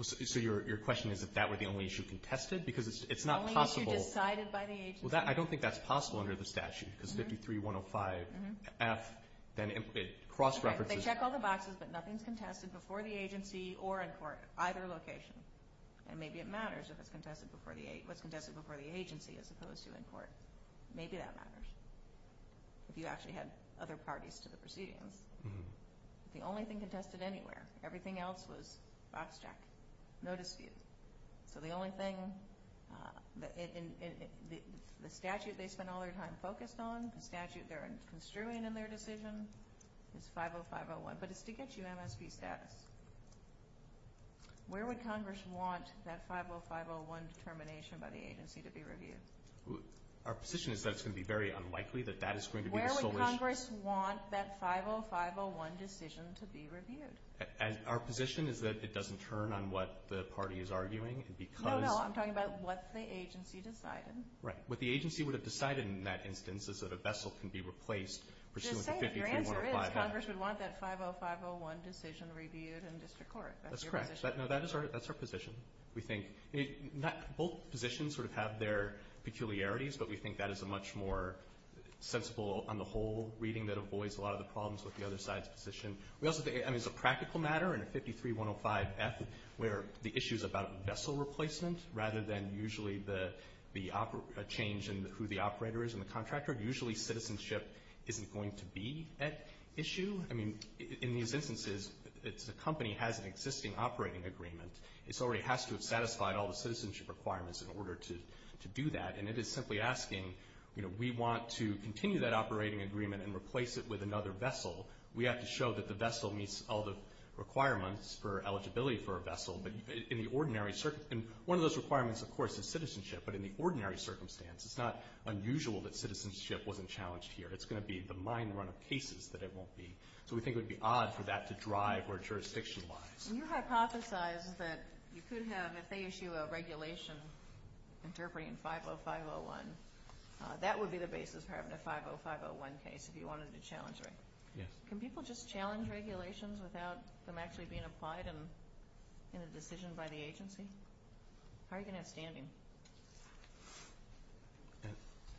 So your question is if that were the only issue contested? Because it's not possible... The only issue decided by the agency. Well, I don't think that's possible under the statute because 53105F then cross-references... They check all the boxes, but nothing's contested before the agency or in court, either location. And maybe it matters if it's contested before the agency as opposed to in court. Maybe that matters if you actually had other parties to the proceedings. The only thing contested anywhere, everything else was box check. No dispute. So the only thing in the statute they spend all their time focused on, the statute they're construing in their decision is 50501, but it's to get you MSP status. Where would Congress want that 50501 determination by the agency to be reviewed? Our position is that it's going to be very unlikely that that is going to be the sole issue. Where would Congress want that 50501 decision to be reviewed? Our position is that it doesn't turn on what the party is arguing because... No, no, I'm talking about what the agency decided. Right. What the agency would have decided in that instance is that a vessel can be replaced pursuant to 53105F. Just saying, your answer is Congress would want that 50501 decision reviewed in district court. That's your position. That's correct. That's our position. Both positions sort of have their peculiarities, but we think that is a much more sensible on the whole reading that avoids a lot of the problems with the other side's position. I mean, it's a practical matter in a 53105F where the issue is about vessel replacement rather than usually the change in who the operator is and the contractor. Usually citizenship isn't going to be at issue. I mean, in these instances, it's a company that has an existing operating agreement. It already has to have satisfied all the citizenship requirements in order to do that, and it is simply asking, you know, we want to continue that operating agreement and replace it with another vessel. We have to show that the vessel meets all the requirements for eligibility for a vessel. And one of those requirements, of course, is citizenship, but in the ordinary circumstance, it's not unusual that citizenship wasn't challenged here. It's going to be the mind run of cases that it won't be. So we think it would be odd for that to drive where jurisdiction lies. Can you hypothesize that you could have, if they issue a regulation interpreting 50501, that would be the basis for having a 50501 case if you wanted to challenge it? Yes. Can people just challenge regulations without them actually being applied in a decision by the agency? How are you going to have standing?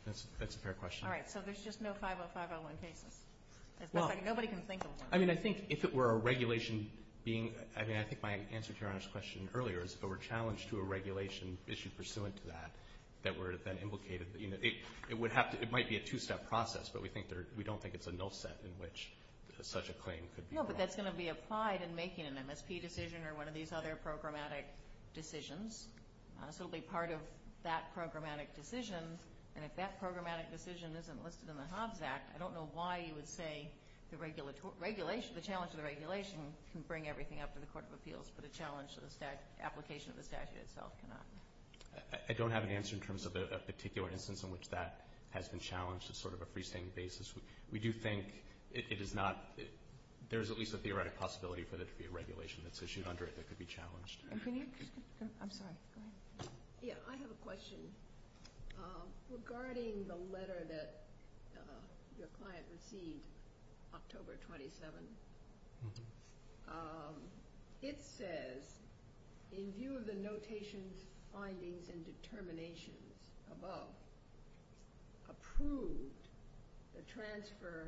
That's a fair question. All right, so there's just no 50501 cases. It's like nobody can think of one. I mean, I think if it were a regulation being... I mean, I think my answer to Your Honor's question earlier is if it were challenged to a regulation issued pursuant to that that were then implicated, you know, it might be a two-step process, but we don't think it's a null set in which such a claim could be... No, but that's going to be applied in making an MSP decision or one of these other programmatic decisions. So it'll be part of that programmatic decision, and if that programmatic decision isn't listed in the Hobbs Act, I don't know why you would say the challenge of the regulation can bring everything up to the Court of Appeals, but a challenge to the application of the statute itself cannot. I don't have an answer in terms of a particular instance in which that has been challenged as sort of a freestanding basis. We do think it is not... There is at least a theoretic possibility for there to be a regulation that's issued under it that could be challenged. And can you... I'm sorry. Go ahead. Yeah, I have a question. Regarding the letter that your client received October 27, it says, in view of the notations, findings, and determinations above, approved the transfer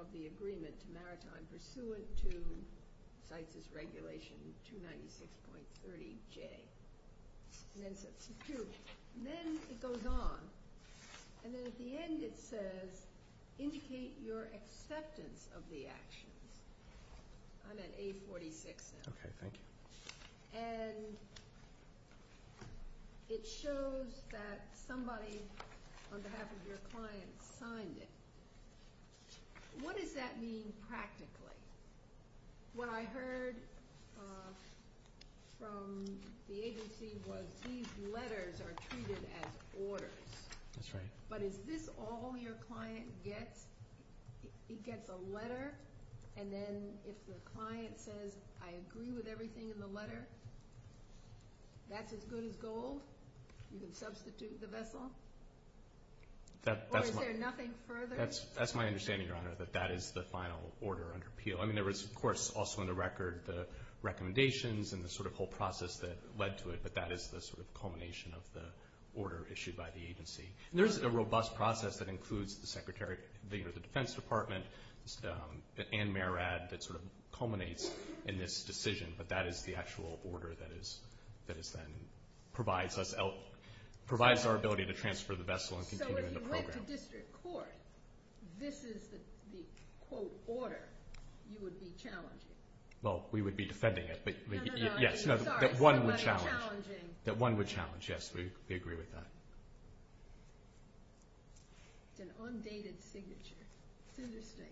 of the agreement to Maritime pursuant to CITES' regulation 296.30J. And then it goes on, and then at the end it says, indicate your acceptance of the actions. I'm at A46 now. Okay, thank you. And it shows that somebody on behalf of your client signed it. What does that mean practically? What I heard from the agency was these letters are treated as orders. That's right. But is this all your client gets? He gets a letter, and then if the client says, I agree with everything in the letter, that's as good as gold? You can substitute the vessel? Or is there nothing further? That's my understanding, Your Honor, that that is the final order under appeal. I mean, there was, of course, also on the record the recommendations and the sort of whole process that led to it, And there's a robust process that includes the Defense Department and MARAD that sort of culminates in this decision, but that is the actual order that is then provides our ability to transfer the vessel and continue the program. So if you went to district court, this is the, quote, order you would be challenging? Well, we would be defending it. No, no, no, I'm sorry. That one would challenge. Somebody challenging. That one would challenge, yes, we agree with that. It's an undated signature. It's interesting.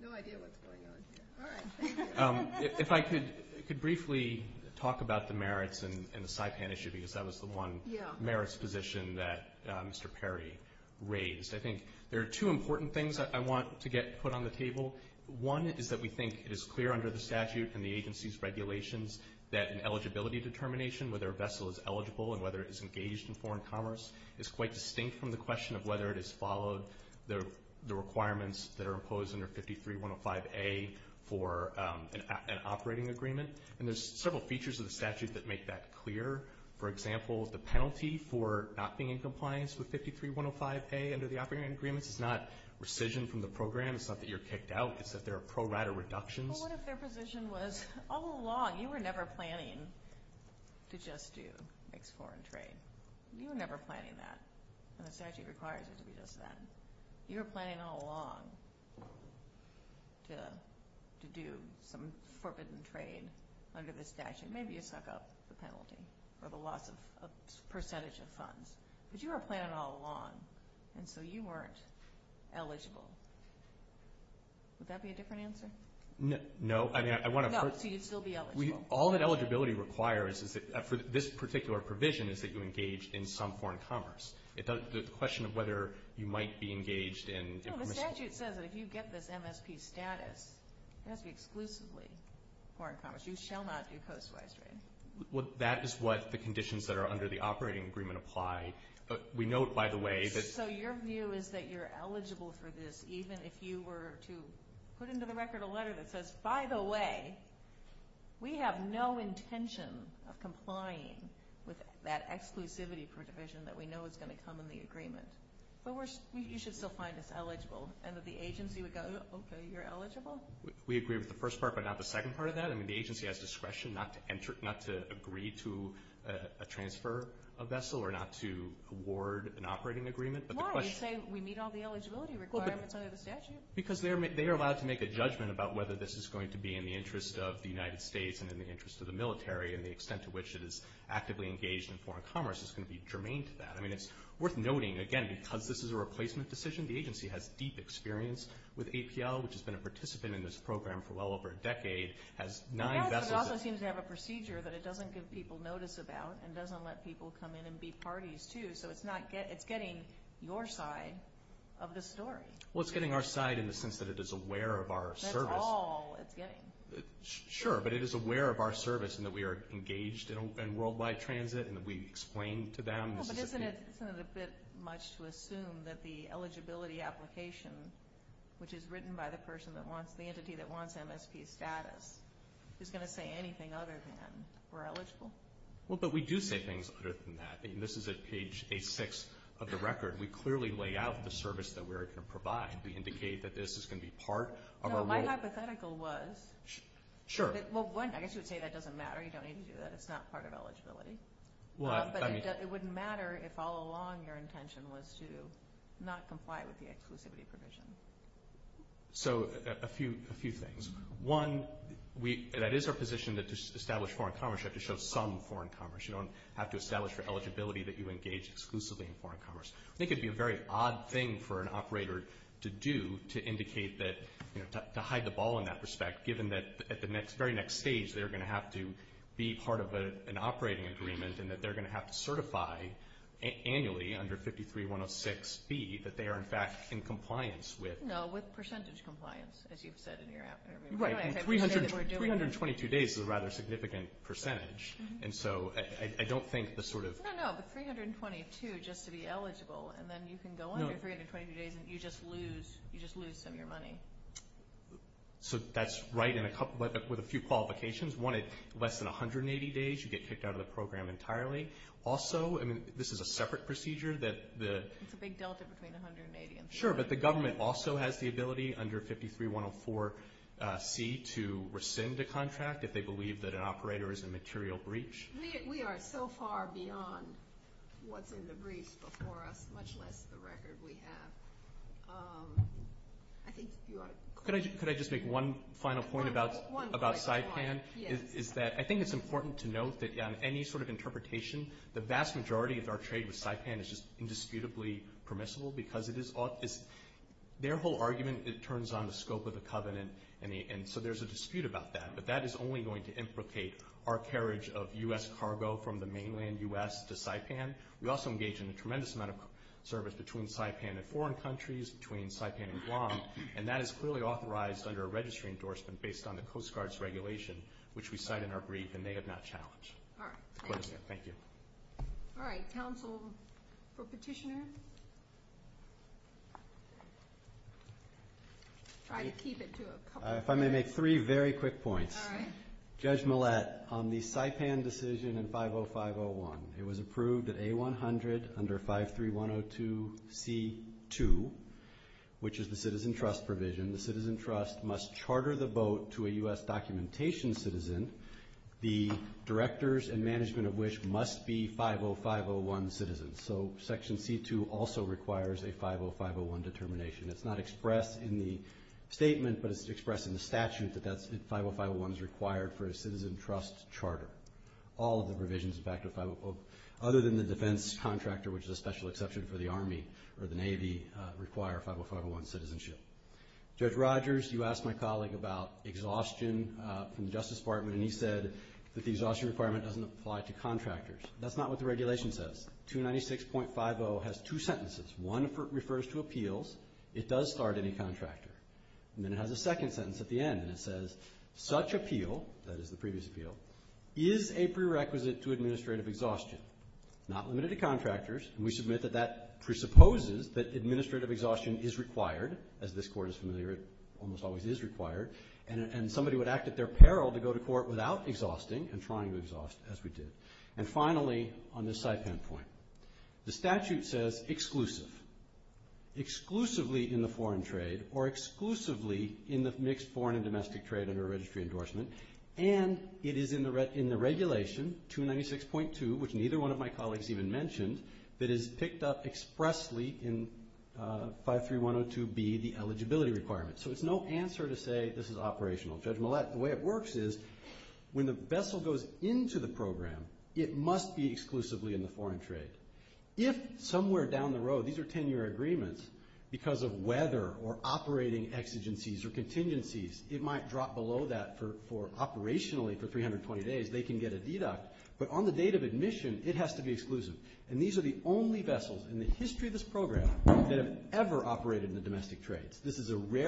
No idea what's going on here. All right. Thank you. If I could briefly talk about the merits and the Saipan issue, because that was the one merits position that Mr. Perry raised. I think there are two important things that I want to get put on the table. One is that we think it is clear under the statute and the agency's regulations that an eligibility determination, whether a vessel is eligible and whether it is engaged in foreign commerce, is quite distinct from the question of whether it has followed the requirements that are imposed under 53-105A for an operating agreement. And there's several features of the statute that make that clear. For example, the penalty for not being in compliance with 53-105A under the operating agreements is not rescission from the program. It's not that you're kicked out. It's that there are pro rata reductions. Well, what if their position was all along you were never planning to just do mixed foreign trade? You were never planning that. And the statute requires it to be just that. You were planning all along to do some forbidden trade under the statute. Maybe you suck up the penalty or the loss of a percentage of funds. But you were planning all along, and so you weren't eligible. Would that be a different answer? No. No, so you'd still be eligible. All that eligibility requires is that for this particular provision is that you engage in some foreign commerce. The question of whether you might be engaged in permissible. No, the statute says that if you get this MSP status, it has to be exclusively foreign commerce. You shall not do post-wise trade. That is what the conditions that are under the operating agreement apply. We note, by the way, that – So your view is that you're eligible for this even if you were to put into the We have no intention of complying with that exclusivity provision that we know is going to come in the agreement. But you should still find us eligible. And that the agency would go, okay, you're eligible? We agree with the first part, but not the second part of that. I mean, the agency has discretion not to agree to a transfer of vessel or not to award an operating agreement. Why? You say we meet all the eligibility requirements under the statute. Because they are allowed to make a judgment about whether this is going to be in the interest of the United States and in the interest of the military and the extent to which it is actively engaged in foreign commerce is going to be germane to that. I mean, it's worth noting, again, because this is a replacement decision, the agency has deep experience with APL, which has been a participant in this program for well over a decade, has nine vessels. Yes, but it also seems to have a procedure that it doesn't give people notice about and doesn't let people come in and be parties to. So it's getting your side of the story. Well, it's getting our side in the sense that it is aware of our service. That's all it's getting. Sure, but it is aware of our service and that we are engaged in worldwide transit and that we explain to them. But isn't it a bit much to assume that the eligibility application, which is written by the entity that wants MSP status, is going to say anything other than we're eligible? Well, but we do say things other than that. I mean, this is at page 6 of the record. We clearly lay out the service that we're going to provide. We indicate that this is going to be part of our role. No, my hypothetical was. Sure. Well, one, I guess you would say that doesn't matter. You don't need to do that. It's not part of eligibility. But it wouldn't matter if all along your intention was to not comply with the exclusivity provision. So a few things. One, that is our position that to establish foreign commerce, you have to show some foreign commerce. You don't have to establish for eligibility that you engage exclusively in foreign commerce. I think it would be a very odd thing for an operator to do to indicate that, to hide the ball in that respect, given that at the very next stage they're going to have to be part of an operating agreement and that they're going to have to certify annually under 53-106-B that they are, in fact, in compliance with. No, with percentage compliance, as you've said in your application. Right, and 322 days is a rather significant percentage. And so I don't think the sort of. No, no, no, but 322 just to be eligible, and then you can go under 322 days and you just lose some of your money. So that's right with a few qualifications. One, at less than 180 days you get kicked out of the program entirely. Also, I mean, this is a separate procedure. It's a big delta between 180 and 322. Sure, but the government also has the ability under 53-104-C to rescind a contract if they believe that an operator is in material breach. We are so far beyond what's in the briefs before us, much less the record we have. I think you are correct. Could I just make one final point about SIPAN? Yes. I think it's important to note that on any sort of interpretation, the vast majority of our trade with SIPAN is just indisputably permissible because their whole argument turns on the scope of the covenant, and so there's a dispute about that. But that is only going to implicate our carriage of U.S. cargo from the mainland U.S. to SIPAN. We also engage in a tremendous amount of service between SIPAN and foreign countries, between SIPAN and Guam, and that is clearly authorized under a registry endorsement based on the Coast Guard's regulation, which we cite in our brief, and they have not challenged. All right. Thank you. Counsel for Petitioner? Try to keep it to a couple minutes. If I may make three very quick points. All right. Judge Millett, on the SIPAN decision in 50501, it was approved at A100 under 53102C2, which is the citizen trust provision. The citizen trust must charter the boat to a U.S. documentation citizen, the directors and management of which must be 50501 citizens. So Section C2 also requires a 50501 determination. It's not expressed in the statement, but it's expressed in the statute that 50501 is required for a citizen trust charter. All of the provisions, in fact, other than the defense contractor, which is a special exception for the Army or the Navy, require 50501 citizenship. Judge Rogers, you asked my colleague about exhaustion from the Justice Department, and he said that the exhaustion requirement doesn't apply to contractors. That's not what the regulation says. 296.50 has two sentences. One refers to appeals. It does start any contractor. And then it has a second sentence at the end, and it says, such appeal, that is the previous appeal, is a prerequisite to administrative exhaustion, not limited to contractors, and we submit that that presupposes that administrative exhaustion is required. As this Court is familiar, it almost always is required, and somebody would act at their peril to go to court without exhausting and trying to exhaust, as we did. And finally, on this SIPAN point, the statute says exclusive. Exclusively in the foreign trade or exclusively in the mixed foreign and domestic trade under a registry endorsement, and it is in the regulation, 296.2, which neither one of my colleagues even mentioned, that is picked up expressly in 53102B, the eligibility requirement. So it's no answer to say this is operational. Judge Millett, the way it works is when the vessel goes into the program, it must be exclusively in the foreign trade. If somewhere down the road, these are 10-year agreements, because of weather or operating exigencies or contingencies, it might drop below that for operationally for 320 days, they can get a deduct, but on the date of admission, it has to be exclusive. And these are the only vessels in the history of this program that have ever operated in the domestic trades. the statutory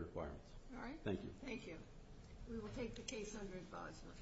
requirements. All right. Thank you. Thank you. We will take the case under advisement.